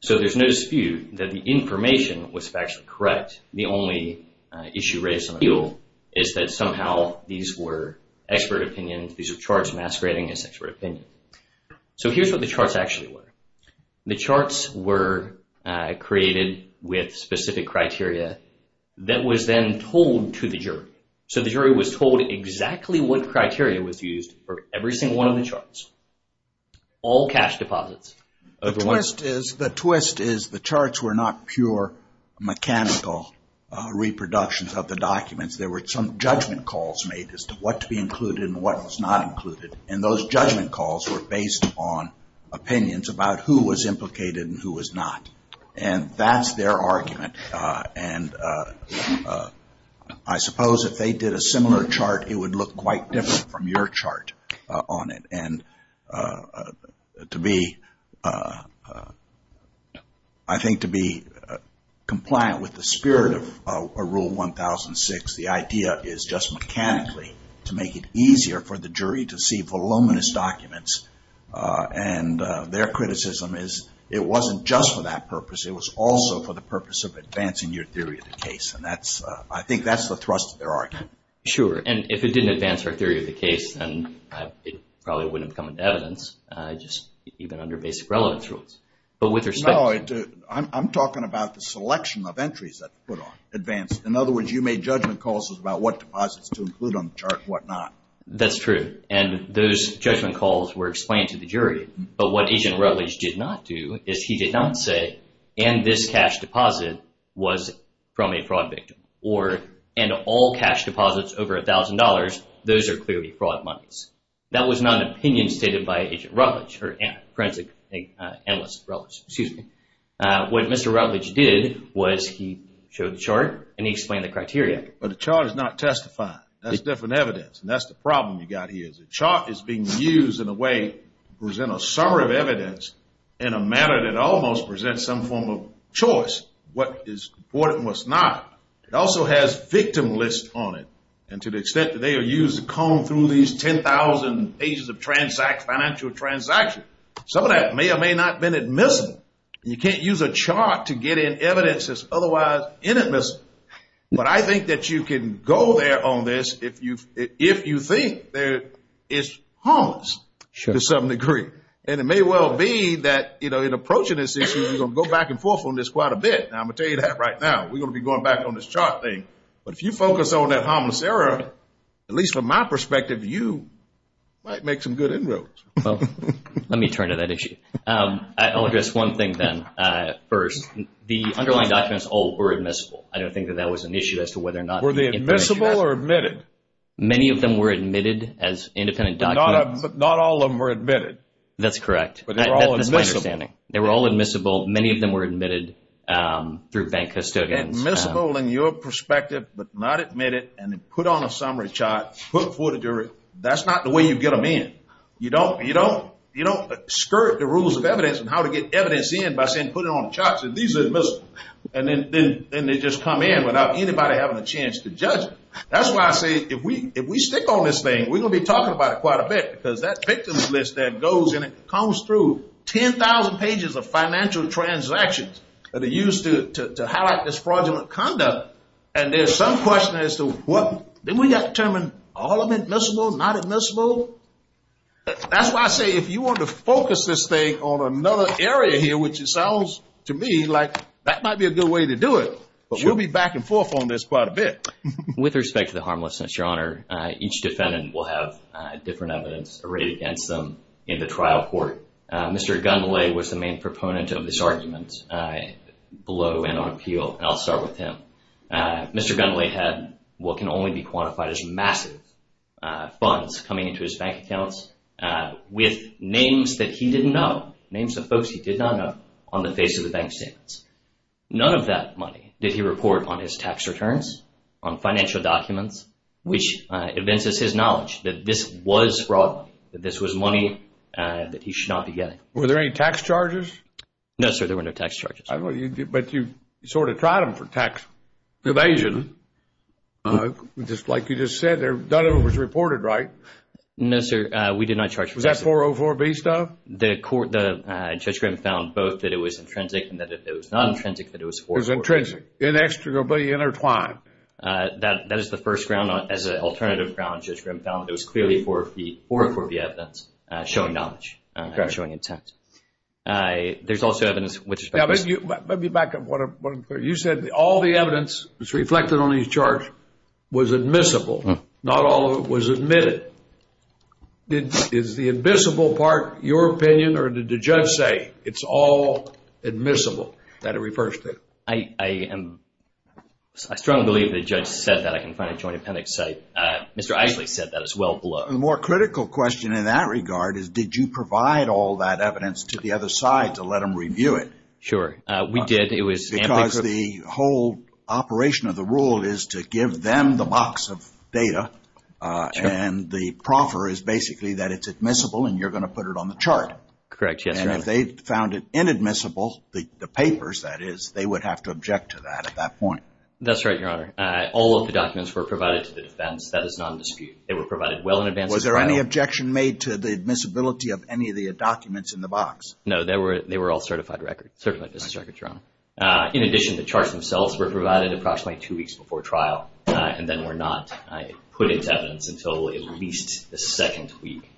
So there's no dispute that the information was factually correct. The only issue raised in the field is that somehow these were expert opinions. These are charts masquerading as expert opinions. So here's what the charts actually were. The charts were created with specific criteria that was then told to the jury. So the jury was told exactly what criteria was used for every single one of the charts, all cash deposits. The twist is the charts were not pure mechanical reproductions of the documents. There were some judgment calls made as to what to be included and what was not included. And those judgment calls were based on opinions about who was implicated and who was not. And that's their argument. And I suppose if they did a similar chart, it would look quite different from your chart on it. And I think to be compliant with the spirit of Rule 1006, the idea is just mechanically to make it easier for the jury to see voluminous documents. And their criticism is it wasn't just for that purpose. It was also for the purpose of advancing your theory of the case. And I think that's the thrust of their argument. Sure. And if it didn't advance their theory of the case, then it probably wouldn't come into evidence, even under basic relevant rules. No, I'm talking about the selection of entries that's put on advance. In other words, you made judgment calls about what deposits to include on the charts and what not. That's true. And those judgment calls were explained to the jury. But what Agent Rutledge did not do is he did not say, and this cash deposit was from a fraud victim. And all cash deposits over $1,000, those are clearly fraud monies. That was not an opinion stated by Agent Rutledge or forensic analyst Rutledge, excuse me. What Mr. Rutledge did was he showed the chart, and he explained the criteria. But the chart is not testifying. That's different evidence, and that's the problem you've got here. The chart is being used in a way to present a summary of evidence in a manner that almost presents some form of choice. What is important and what's not. It also has victim lists on it. And to the extent that they are used to comb through these 10,000 pages of financial transactions, some of that may or may not have been admissible. You can't use a chart to get in evidence that's otherwise inadmissible. But I think that you can go there on this if you think it's harmless to some degree. And it may well be that in approaching this issue, you're going to go back and forth on this quite a bit. Now, I'm going to tell you that right now. We're going to be going back on this chart thing. But if you focus on that harmless error, at least from my perspective, you might make some good inroads. Let me turn to that issue. I'll address one thing then first. The underlying documents all were admissible. I don't think that that was an issue as to whether or not. Were they admissible or admitted? Many of them were admitted as independent documents. Not all of them were admitted. That's correct. But they were all admissible. They were all admissible. Many of them were admitted through bank custodians. Admissible in your perspective, but not admitted, and then put on a summary chart, put forth a jury. That's not the way you get them in. You don't skirt the rules of evidence and how to get evidence in by saying put it on a chart and say these are admissible. And then they just come in without anybody having a chance to judge them. That's why I say if we stick on this thing, we're going to be talking about it quite a bit, because that victims list that goes in it comes through 10,000 pages of financial transactions that are used to highlight this fraudulent conduct. And there's some question as to didn't we determine all of them admissible, not admissible? That's why I say if you want to focus this thing on another area here, which it sounds to me like that might be a good way to do it. But we'll be back and forth on this quite a bit. With respect to the harmlessness, Your Honor, each defendant will have different evidence arrayed against them in the trial court. Mr. Gundley was the main proponent of this argument below and on appeal, and I'll start with him. Mr. Gundley had what can only be quantified as massive funds coming into his bank accounts with names that he didn't know, names of folks he did not know on the face of the bank statements. None of that money did he report on his tax returns, on financial documents, which evinces his knowledge that this was fraud, that this was money that he should not be getting. Were there any tax charges? No, sir, there were no tax charges. But you sort of tried them for tax evasion, just like you just said. None of them was reported right. No, sir, we did not charge for that. Was that 404B stuff? Judge Grimm found both that it was intrinsic and that it was non-intrinsic, that it was 404B. It was intrinsic, inextricably intertwined. That is the first round. As an alternative round, Judge Grimm found it was clearly 404B evidence showing knowledge, showing intent. There's also evidence which is- Let me back up. You said all the evidence that's reflected on these charges was admissible. Not all of it was admitted. Is the admissible part your opinion, or did the judge say it's all admissible, that it refers to? I strongly believe the judge said that. I can find it in the Joint Appendix site. Mr. Isaac said that as well below. The more critical question in that regard is, did you provide all that evidence to the other side to let them review it? Sure, we did. Because the whole operation of the rule is to give them the box of data, and the proffer is basically that it's admissible and you're going to put it on the chart. Correct, yes. If they found it inadmissible, the papers, that is, they would have to object to that at that point. That's right, Your Honor. All of the documents were provided to the defense. That is nondispute. They were provided well in advance of trial. Was there any objection made to the admissibility of any of the documents in the box? No, they were all certified records. Certified business records, Your Honor. In addition, the charts themselves were provided approximately two weeks before trial, and then were not put into evidence until at least the second week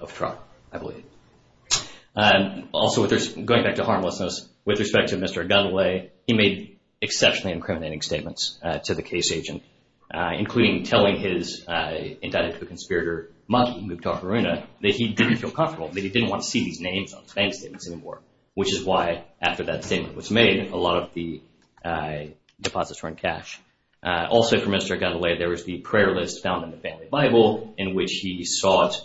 of trial, I believe. Also, going back to harmlessness, with respect to Mr. Nathalae, he made exceptionally incriminating statements to the case agent, including telling his indicted conspirator, Mosul Mukhtar Farina, that he didn't feel comfortable, that he didn't want to see these names on his bank statements anymore, which is why, after that statement was made, a lot of the deposits were in cash. Also, for Mr. Nathalae, there was the prayer list found in the family Bible, in which he sought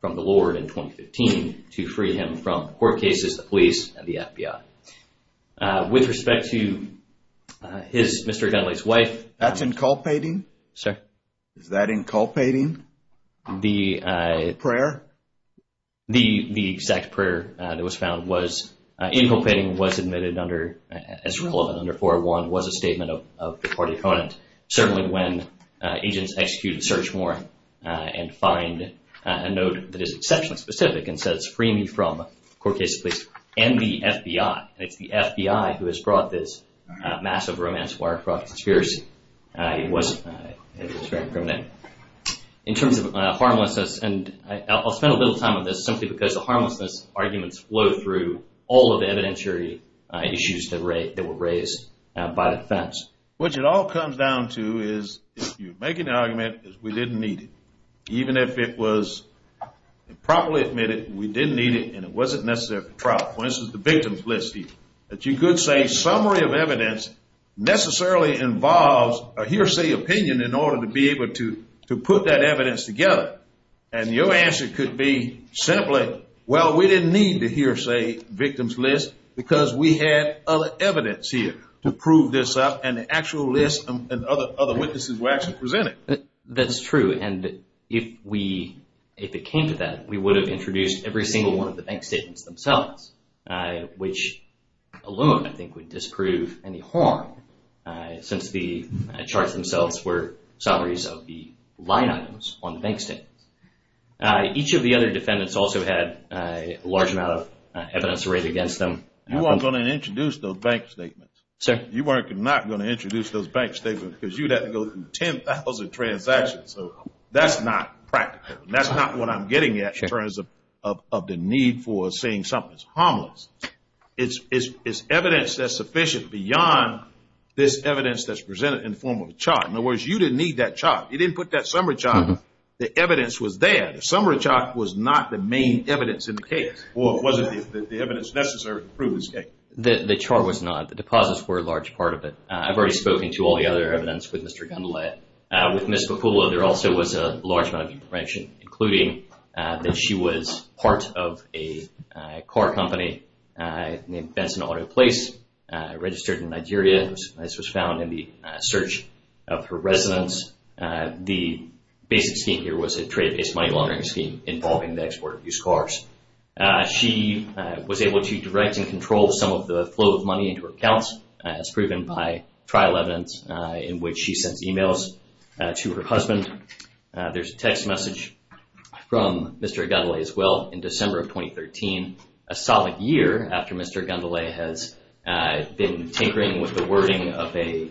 from the Lord in 2015 to free him from court cases, the police, and the FBI. With respect to Mr. Nathalae's wife. That's inculpating? Sir? Is that inculpating? The prayer? The exact prayer that was found was inculpating what's admitted under, as reported under 401, was a statement of reported violence. Certainly when agents execute a search warrant and find a note that is exceptionally specific and says, free me from court cases, please, and the FBI, who has brought this massive romance wire fraud conspiracy. It was very criminal. In terms of harmlessness, and I'll spend a little time on this, simply because the harmlessness arguments flow through all of the evidentiary issues that were raised by the defense. Which it all comes down to is, if you make an argument that we didn't need it, even if it was properly admitted, and we didn't need it, and it wasn't necessarily for trial, for instance, the victim's list here, that you could say summary of evidence necessarily involves a hearsay opinion in order to be able to put that evidence together. And your answer could be simply, well, we didn't need the hearsay victim's list because we had other evidence here to prove this up, and the actual list and other witnesses were actually presented. That's true. And if it came to that, we would have introduced every single one of the bank statements themselves, which alone, I think, would disprove any harm, since the charts themselves were summaries of the line items on the bank statement. Each of the other defendants also had a large amount of evidence raised against them. You weren't going to introduce those bank statements. You were not going to introduce those bank statements because you'd have to go through 10,000 transactions. So that's not practical. That's not what I'm getting at in terms of the need for saying something's harmless. It's evidence that's sufficient beyond this evidence that's presented in the form of a chart. In other words, you didn't need that chart. You didn't put that summary chart. The evidence was there. The summary chart was not the main evidence in the case, or it wasn't the evidence necessary to prove this case. The chart was not. The clauses were a large part of it. I've already spoken to all the other evidence with Mr. Gundula. With Ms. Bakula, there also was a large amount of information, including that she was part of a car company named Benson Auto Place, registered in Nigeria. This was found in the search of her residence. The basic scheme here was a trade-based money laundering scheme involving the export of used cars. She was able to direct and control some of the flow of money into her accounts, as proven by trial evidence in which she sent emails to her husband. There's a text message from Mr. Gundula as well, in December of 2013, a solid year after Mr. Gundula has been tinkering with the wording of a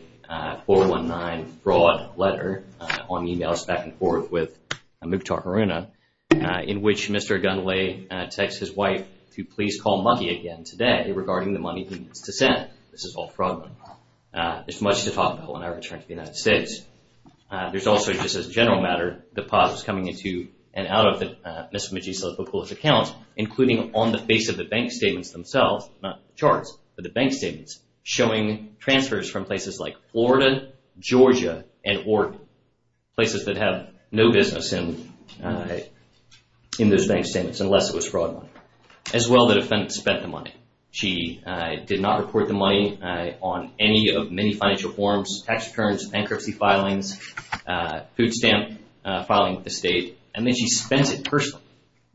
419 broad letter on emails, back and forth with Mukhtar Marina, in which Mr. Gundula texts his wife to please call mummy again today regarding the money he sent. This is all fraud money. It's much too popular when I return to the United States. There's also, just as a general matter, deposits coming into and out of Ms. Bakula's account, including on the face of the bank statements themselves, not charts, but the bank statements, showing transfers from places like Florida, Georgia, and Oregon. Places that have no business in those bank statements, unless it was fraud money. As well, the defense spent the money. In fact, she did not report the money on any of many financial forms, tax returns, bankruptcy filings, food stamps, filing with the state, and then she spent it personally.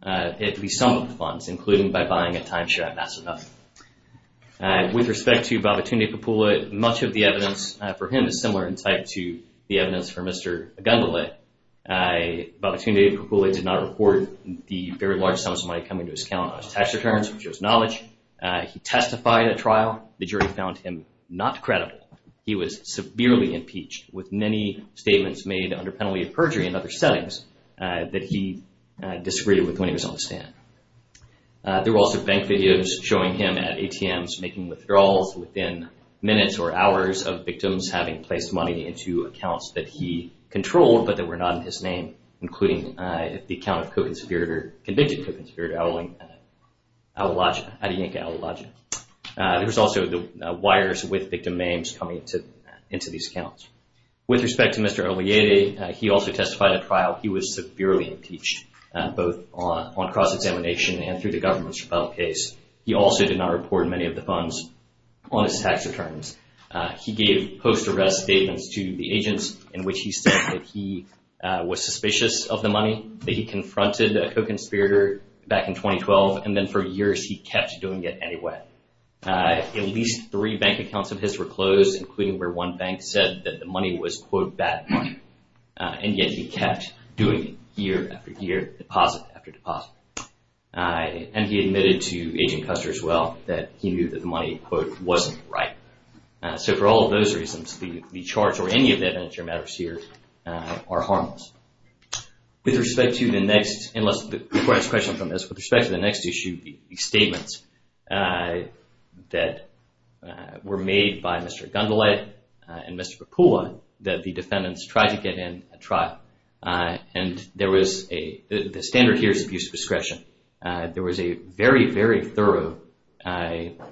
It would be some of the funds, including by buying a time shed, that sort of thing. With respect to Babatunde Bakula, much of the evidence for him is similar in type to the evidence for Mr. Gundula. Babatunde Bakula did not report the very large sums of money coming to his account as tax returns, which is knowledge. He testified at trial. The jury found him not credible. He was severely impeached with many statements made under penalty of perjury in other settings that he disagreed with when he was on the stand. There were also bank videos showing him at ATMs making withdrawals within minutes or hours of victims having placed money into accounts that he controlled, but that were not in his name, including the account of Kofinspirit or convicted Kofinspirit Adyinka Awolaja. There was also the wires with victim names coming into these accounts. With respect to Mr. Obeye, he also testified at trial. He was severely impeached, both on cross-examination and through the government's trial case. He also did not report many of the funds on his tax returns. He gave post-arrest statements to the agents in which he said that he was suspicious of the money, that he confronted a Kofinspirit back in 2012, and then for years he kept doing it anyway. At least three bank accounts of his were closed, including where one bank said that the money was quote, bad money, and yet he kept doing it year after year, deposit after deposit. And he admitted to Agent Custer as well that he knew that the money, quote, wasn't right. So for all of those reasons, the charge or any of the evidence or matters here are harmless. With respect to the next, and let's go to the next question from this. With respect to the next issue, the statements that were made by Mr. Dundelet and Mr. Pukula, that the defendants tried to get him at trial, and the standard here is abuse of discretion. There was a very, very thorough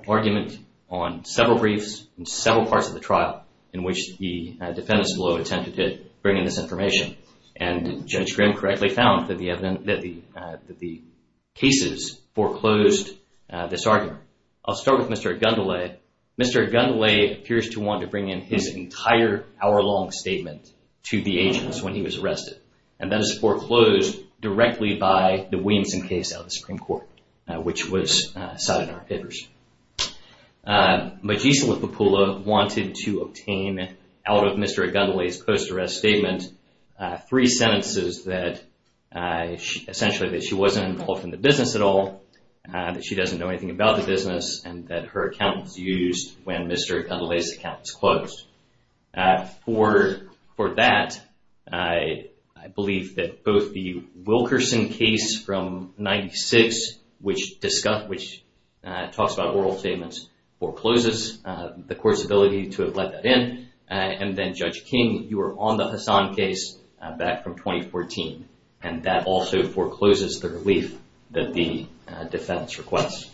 argument on several briefs in several parts of the trial in which the defendants will have attempted to bring in this information, and Judge Graham correctly found that the cases foreclosed this argument. I'll start with Mr. Dundelet. Mr. Dundelet appears to want to bring in his entire hour-long statement to the agents when he was arrested, and that is foreclosed directly by the Williamson case out of the Supreme Court, which was cited in our figures. Magician with Pukula wanted to obtain out of Mr. Dundelet's post-arrest statement three sentences that, essentially, that she wasn't involved in the business at all, that she doesn't know anything about the business, and that her account was used when Mr. Dundelet's account was closed. For that, I believe that both the Wilkerson case from 1996, which talks about oral statements, forecloses the court's ability to have let that in, and then Judge King, you were on the Hassan case back from 2014, and that also forecloses the relief that the defendants request.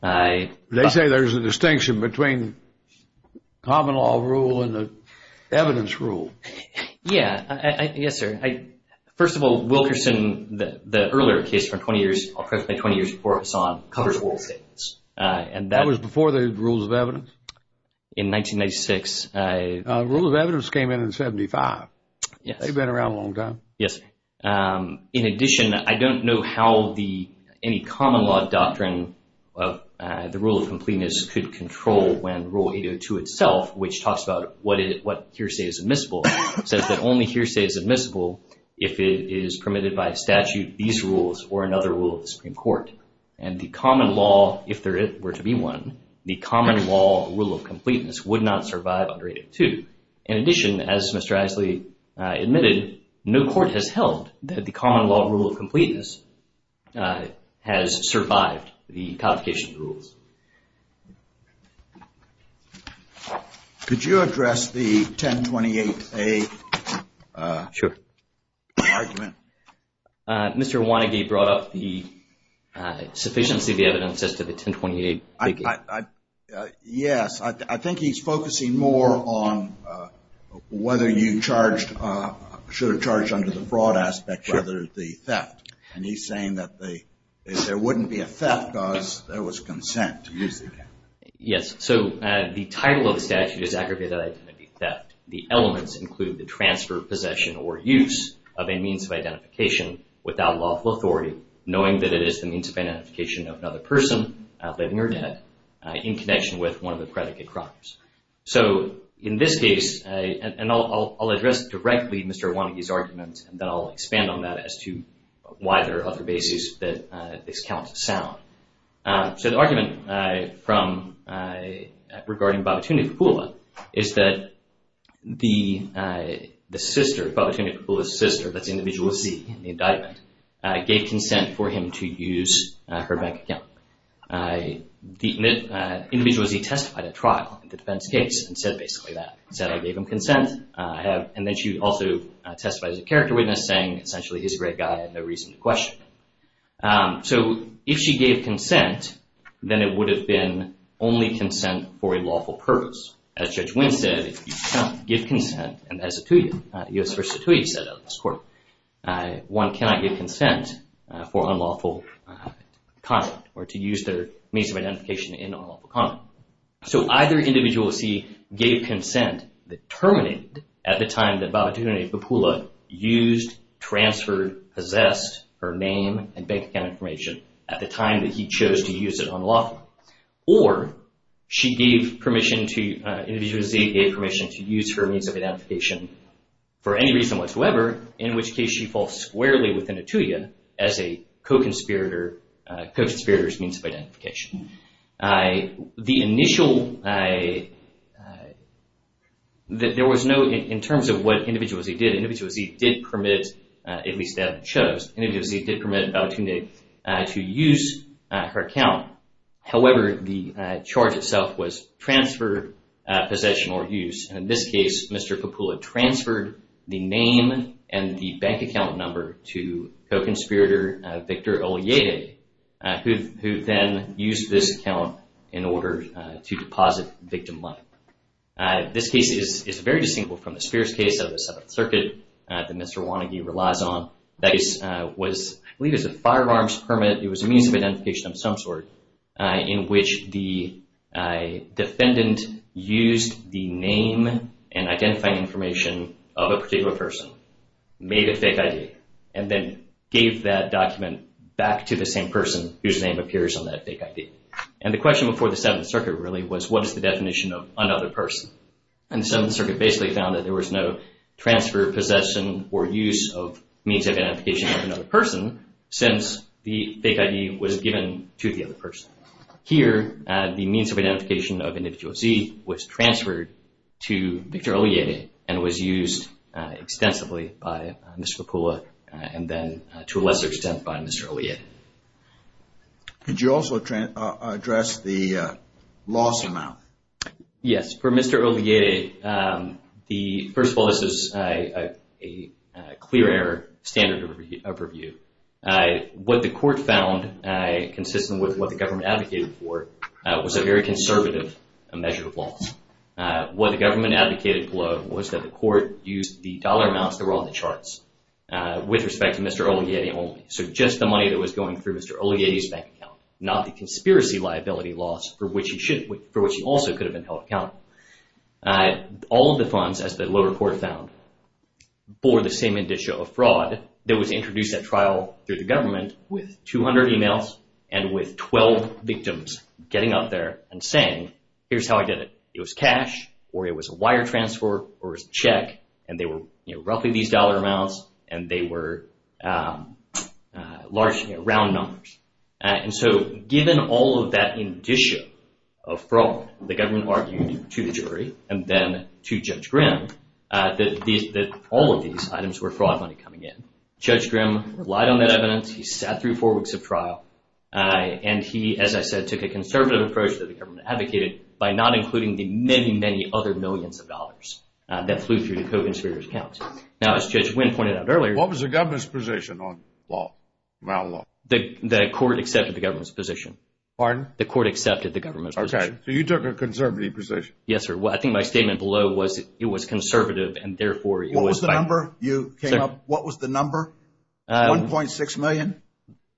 They say there's a distinction between common law rule and the evidence rule. Yeah, yes, sir. First of all, Wilkerson, the earlier case from 20 years, approximately 20 years before Hassan, covers oral statements. That was before the rules of evidence? In 1996. Rules of evidence came in in 75. They've been around a long time. Yes. In addition, I don't know how any common law doctrine of the rule of completeness could control when Rule 802 itself, which talks about what hearsay is admissible, says that only hearsay is admissible if it is permitted by statute, these rules, or another rule of the Supreme Court. And the common law, if there were to be one, the common law rule of completeness would not survive under 802. In addition, as Mr. Isley admitted, no court has held that the common law rule of completeness has survived the complications of the rules. Could you address the 1028A argument? Mr. Wannigate brought up the sufficiency of the evidence as to the 1028A. Yes. I think he's focusing more on whether you should have charged under the fraud aspect rather than the theft. And he's saying that there wouldn't be a theft because there was consent. Yes. So, the title of the statute is aggravated as theft. The elements include the transfer, possession, or use of a means of identification without lawful authority, knowing that it is the means of identification of another person out there in your net in connection with one of the predicate crimes. So, in this case – and I'll address directly Mr. Wannigate's arguments, and then I'll expand on that as to why there are other bases that this counts as theft. So, the argument regarding Babatunde Kapula is that the sister, Babatunde Kapula's sister, that's the individualist in the indictment, gave consent for him to use her bank account. The individualist testified at trial in the defense case and said basically that. She said, I gave him consent, and then she also testified as a character witness, saying essentially his red guy had no reason to question her. So, if she gave consent, then it would have been only consent for a lawful purpose. As Judge Winn said, you cannot give consent – and that's a two-year – U.S. First, a two-year set up, of course. One cannot give consent for unlawful conduct or to use their means of identification in unlawful conduct. So, either individualist, he gave consent, that terminated at the time that Babatunde Kapula used, transferred, possessed her name and bank account information at the time that he chose to use it on the lawful, or she gave permission to – individualist A gave permission to use her means of identification for any reason whatsoever, in which case she falls squarely within a tuya as a co-conspirator's means of identification. The initial – there was no – in terms of what individualist A did, individualist A did permit, at least as it shows, individualist A did permit Babatunde to use her account. However, the charge itself was transfer, possession, or use. In this case, Mr. Kapula transferred the name and the bank account number to co-conspirator Victor Olleada, who then used this account in order to deposit victim life. This case is very distinct from the Spears case of the Seventh Circuit that Mr. Wannegie relies on. That case was – I believe it was a firearms permit. It was a means of identification of some sort in which the defendant used the name and identifying information of a particular person, made a fake ID, and then gave that document back to the same person whose name appears on that fake ID. And the question before the Seventh Circuit really was, what is the definition of another person? And the Seventh Circuit basically found that there was no transfer, possession, or use of means of identification of another person since the fake ID was given to the other person. Here, the means of identification of individualist C was transferred to Victor Olleada and was used extensively by Mr. Kapula and then, to a lesser extent, by Mr. Olleada. Could you also address the loss amount? Yes. For Mr. Olleada, first of all, this is a clear error standard of review. What the court found, consistent with what the government advocated for, was a very conservative measure of loss. What the government advocated for was that the court used the dollar amounts that were on the charts with respect to Mr. Olleada only. So just the money that was going through Mr. Olleada's bank account, not the conspiracy liability loss for which he also could have been held accountable. All of the funds, as the lower court found, for the same individual fraud that was introduced at trial through the government with 200 emails and with 12 victims getting out there and saying, here's how I did it. It was cash or it was a wire transfer or a check and they were roughly these dollar amounts and they were large, round numbers. And so given all of that indicia of fraud, the government argued to the jury and then to Judge Grimm that all of these items were fraud money coming in. Judge Grimm relied on that evidence. He sat through four weeks of trial. And he, as I said, took a conservative approach that the government advocated by not including the many, many other millions of dollars that flew through the co-conspirators' accounts. Now, as Judge Wynn pointed out earlier... What was the government's position on the law? The court accepted the government's position. Pardon? The court accepted the government's position. Okay, so you took a conservative position. Yes, sir. I think my statement below was that it was conservative and therefore it was... What was the number? $1.6 million?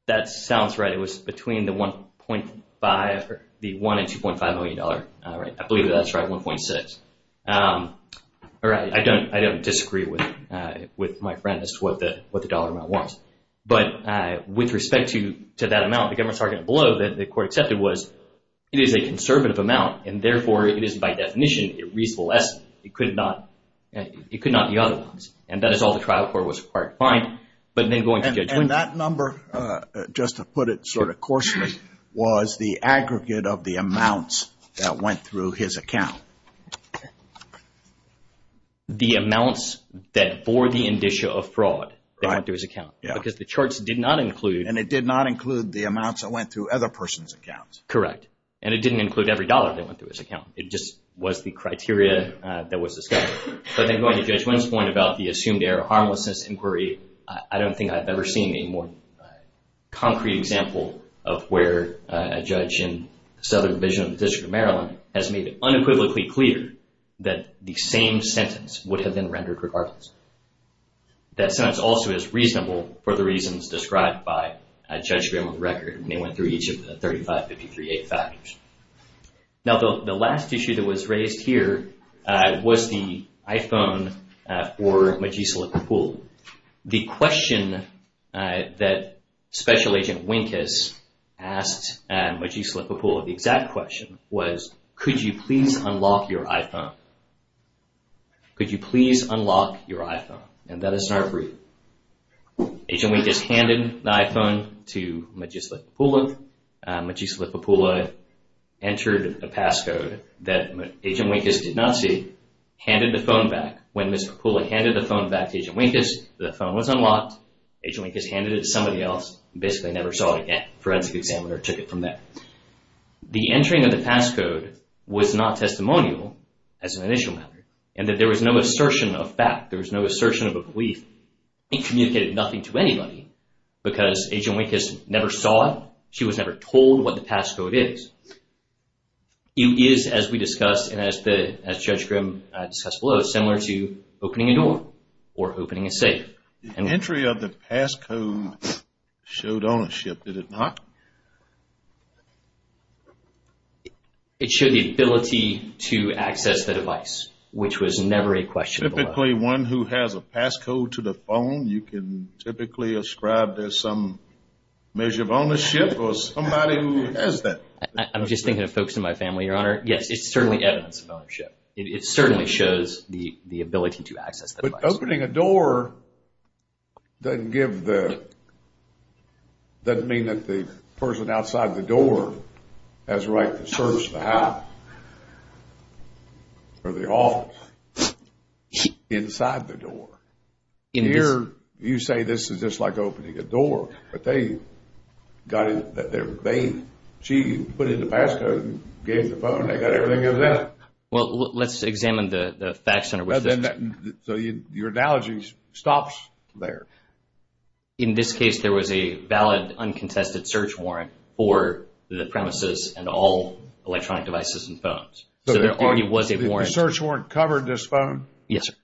That sounds right. It was between the $1 and $2.5 million. I believe that's right, $1.6. All right, I don't disagree with my friend as to what the dollar amount was. But with respect to that amount, the government's argument below that the court accepted was it is a conservative amount and therefore it is by definition a reasonable estimate. It could not be other ones. And that is all the trial court was required to find. And that number, just to put it sort of coarsely, was the aggregate of the amounts that went through his account. The amounts that bore the indicia of fraud that went through his account. Because the charts did not include... And it did not include the amounts that went through other persons' accounts. Correct. And it didn't include every dollar that went through his account. It just was the criteria that was discussed. So I think going to Judge Wynn's point about the assumed error of harmlessness inquiry, I don't think I've ever seen a more concrete example of where a judge in Southern Division of the District of Maryland has made it unequivocally clear that the same sentence would have been rendered regardless. That sentence also is reasonable for the reasons described by Judge Grimm's record. And they went through each of the 35-53-8 factors. Now, the last issue that was raised here was the iPhone for Magisla Papoula. The question that Special Agent Winkes asked Magisla Papoula, the exact question was, could you please unlock your iPhone? Could you please unlock your iPhone? And that is not approved. Agent Winkes handed the iPhone to Magisla Papoula. Magisla Papoula entered a passcode that Agent Winkes did not see, handed the phone back. When Ms. Papoula handed the phone back to Agent Winkes, the phone was unlocked. Agent Winkes handed it to somebody else, and basically never saw it again. Forensic examiner took it from there. The entering of the passcode was not testimonial, as an initial method, and that there was no assertion of fact. There was no assertion of a belief. It communicated nothing to anybody because Agent Winkes never saw it. She was never told what the passcode is. It is, as we discussed and as Judge Grimm discussed below, similar to opening a door or opening a safe. The entry of the passcode showed ownership, did it not? It showed the ability to access the device, which was never a question. Typically one who has a passcode to the phone, you can typically ascribe there's some measure of ownership or somebody who has that. I'm just thinking of folks in my family, Your Honor. Yes, it's certainly evidence of ownership. It certainly shows the ability to access the device. But opening a door doesn't mean that the person outside the door has the right to search the house or the office inside the door. Here, you say this is just like opening a door, but they put in the passcode and gave you the phone. They got everything in there. Well, let's examine the fact center. Your analogy stops there. In this case, there was a valid uncontested search warrant for the premises and all electronic devices and phones. There already was a warrant. The search warrant covered this phone? Yes, sir.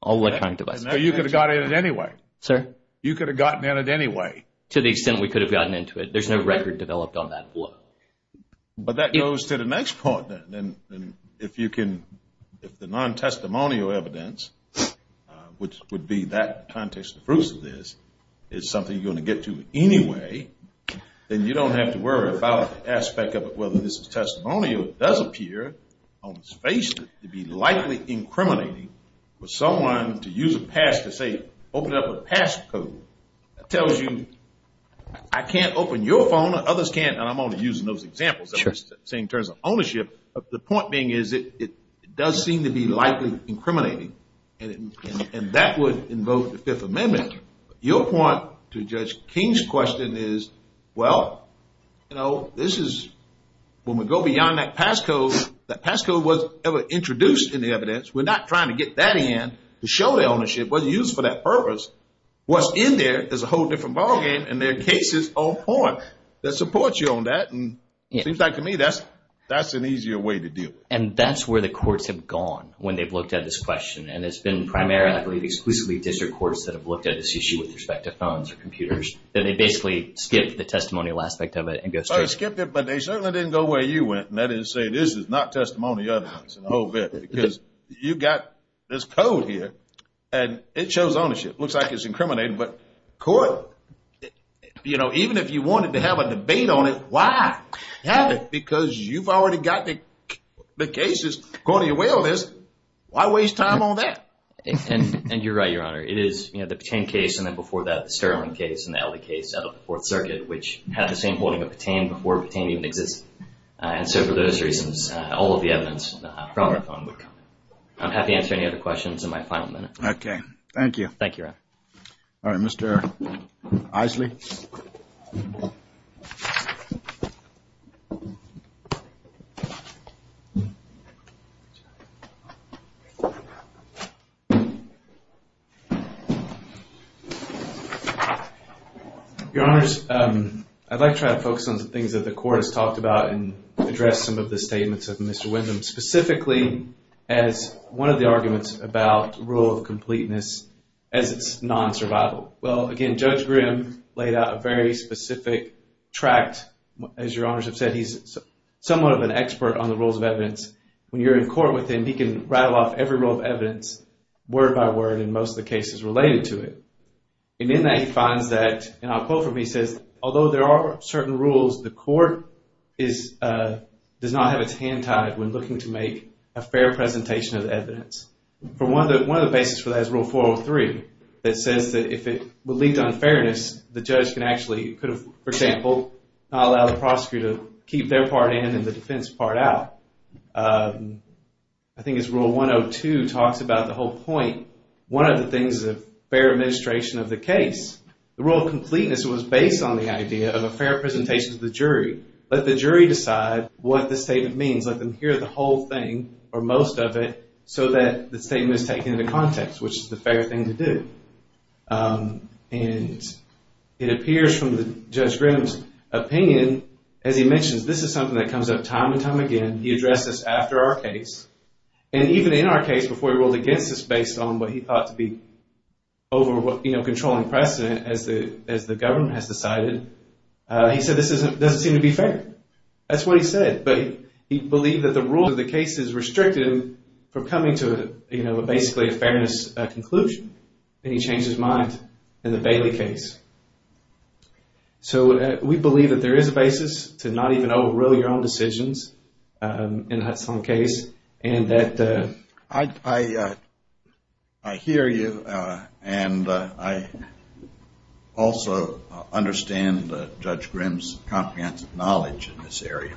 All electronic devices. You could have gotten in it anyway. Sir? You could have gotten in it anyway. To the extent we could have gotten into it. There's no record developed on that floor. But that goes to the next part, then. If the non-testimonial evidence, which would be that context, the proof of this, is something you're going to get to anyway, then you don't have to worry about the aspect of whether this is testimonial. It does appear on the space to be likely incriminating for someone to use a pass to, say, open up a passcode. That tells you, I can't open your phone. Others can't. I'm only using those examples. Sure. In terms of ownership. The point being is it does seem to be likely incriminating. And that would invoke the Fifth Amendment. Your point to Judge King's question is, well, you know, this is, when we go beyond that passcode, that passcode was never introduced in the evidence. We're not trying to get that in to show the ownership. It wasn't used for that purpose. Well, in there, there's a whole different ballgame. And there are cases on point that support you on that. And it seems like to me that's an easier way to do it. And that's where the courts have gone when they've looked at this question. And it's been primarily exclusively district courts that have looked at this issue with respect to phones or computers. And they basically skipped the testimonial aspect of it. They skipped it, but they certainly didn't go where you went. And that is to say, this is not testimonial evidence. Because you've got this code here, and it shows ownership. It looks like it's incriminating. But court, you know, even if you wanted to have a debate on it, why have it? Because you've already got the cases going your way on this. Why waste time on that? And you're right, Your Honor. It is, you know, the Petain case, and then before that, the Sterling case, and now the case out of the Fourth Circuit, which had the same holding of Petain before Petain even existed. And so for those reasons, all of the evidence from our phone number. I'm happy to answer any other questions in my final minutes. Okay. Thank you. Thank you, Your Honor. All right. Mr. Eisley. Your Honors, I'd like to try to focus on the things that the court has talked about and address some of the statements of Mr. Windham, specifically as one of the arguments about the rule of completeness as non-survival. Well, again, Judge Grimm laid out a very specific tract. As Your Honors have said, he's somewhat of an expert on the rules of evidence. When you're in court with him, he can rattle off every rule of evidence, word by word, in most of the cases related to it. And in that, he finds that, and I quote from him, he says, Although there are certain rules, the court does not have its hand tied when looking to make a fair presentation of evidence. One of the basis for that is Rule 403. It says that if it would lead to unfairness, the judge can actually, for example, not allow the prosecutor to keep their part in and the defense part out. I think it's Rule 102 talks about the whole point. One of the things is a fair administration of the case. The rule of completeness was based on the idea of a fair presentation to the jury. Let the jury decide what the statement means. Let them hear the whole thing or most of it so that the statement is taken into context, which is the fair thing to do. And it appears from Judge Grimm's opinion, as he mentions, this is something that comes up time and time again. He addressed this after our case. And even in our case, before he ruled against us, based on what he thought to be control and precedent, as the government has decided, he said this doesn't seem to be fair. That's what he said. But he believed that the rules of the case is restricted from coming to basically a fairness conclusion. And he changed his mind in the Bailey case. So we believe that there is a basis to not even overrule your own decisions in that case. I hear you. And I also understand Judge Grimm's comprehensive knowledge in this area.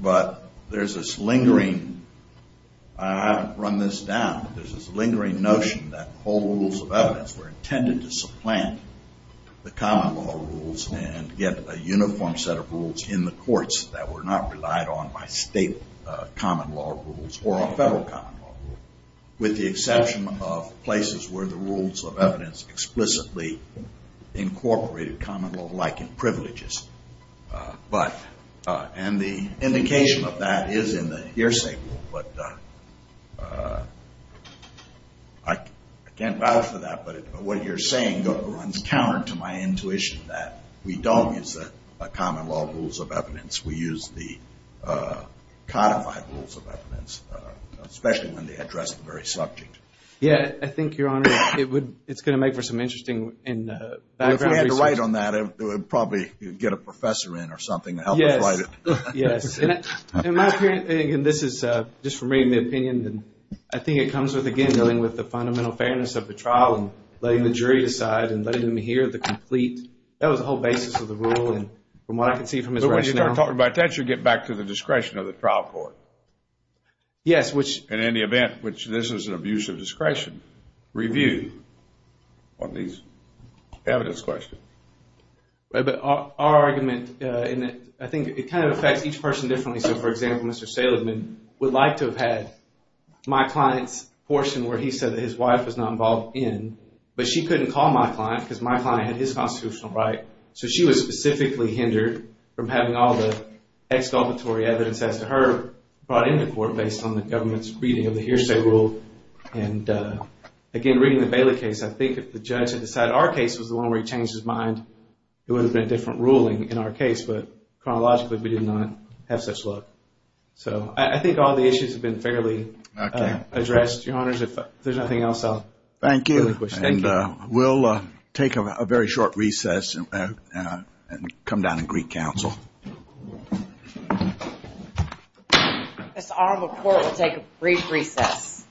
But there's this lingering notion that whole rules of evidence were intended to supplant the common law rules and get a uniform set of rules in the courts that were not relied on by state common law rules or a federal common law rule, with the exception of places where the rules of evidence explicitly incorporated common law-likened privileges. And the indication of that is in the hearsay rule. But I can't vouch for that. But what you're saying runs counter to my intuition that we don't use the common law rules of evidence. We use the codified rules of evidence, especially when they address the very subject. Yeah, I think, Your Honor, it's going to make for some interesting diagrams. If you had to write on that, it would probably get a professor in or something to help us write it. In my opinion, and this is just from reading the opinions, I think it comes with, again, dealing with the fundamental fairness of the trial and letting the jury decide and letting them hear the complete – that was the whole basis of the rule. And from what I can see from this rationale – But when you're talking about that, you get back to the discretion of the trial court. Yes, which – And in the event, which this is an abuse of discretion, review on these evidence questions. But our argument – and I think it kind of affects each person differently. So, for example, Mr. Saleman would like to have had my client's portion where he said that his wife was not involved in, but she couldn't call my client because my client had his constitutional right. So she was specifically hindered from having all the ex-auditory evidence after her brought into court based on the government's reading of the hearsay rule. And, again, reading the Bailey case, I think if the judge had decided – it would have been a different ruling in our case, but chronologically, we did not have such luck. So I think all the issues have been fairly addressed. Your Honors, if there's nothing else, I'll – Thank you. And we'll take a very short recess and come down and greet counsel. It's our report. We'll take a brief recess.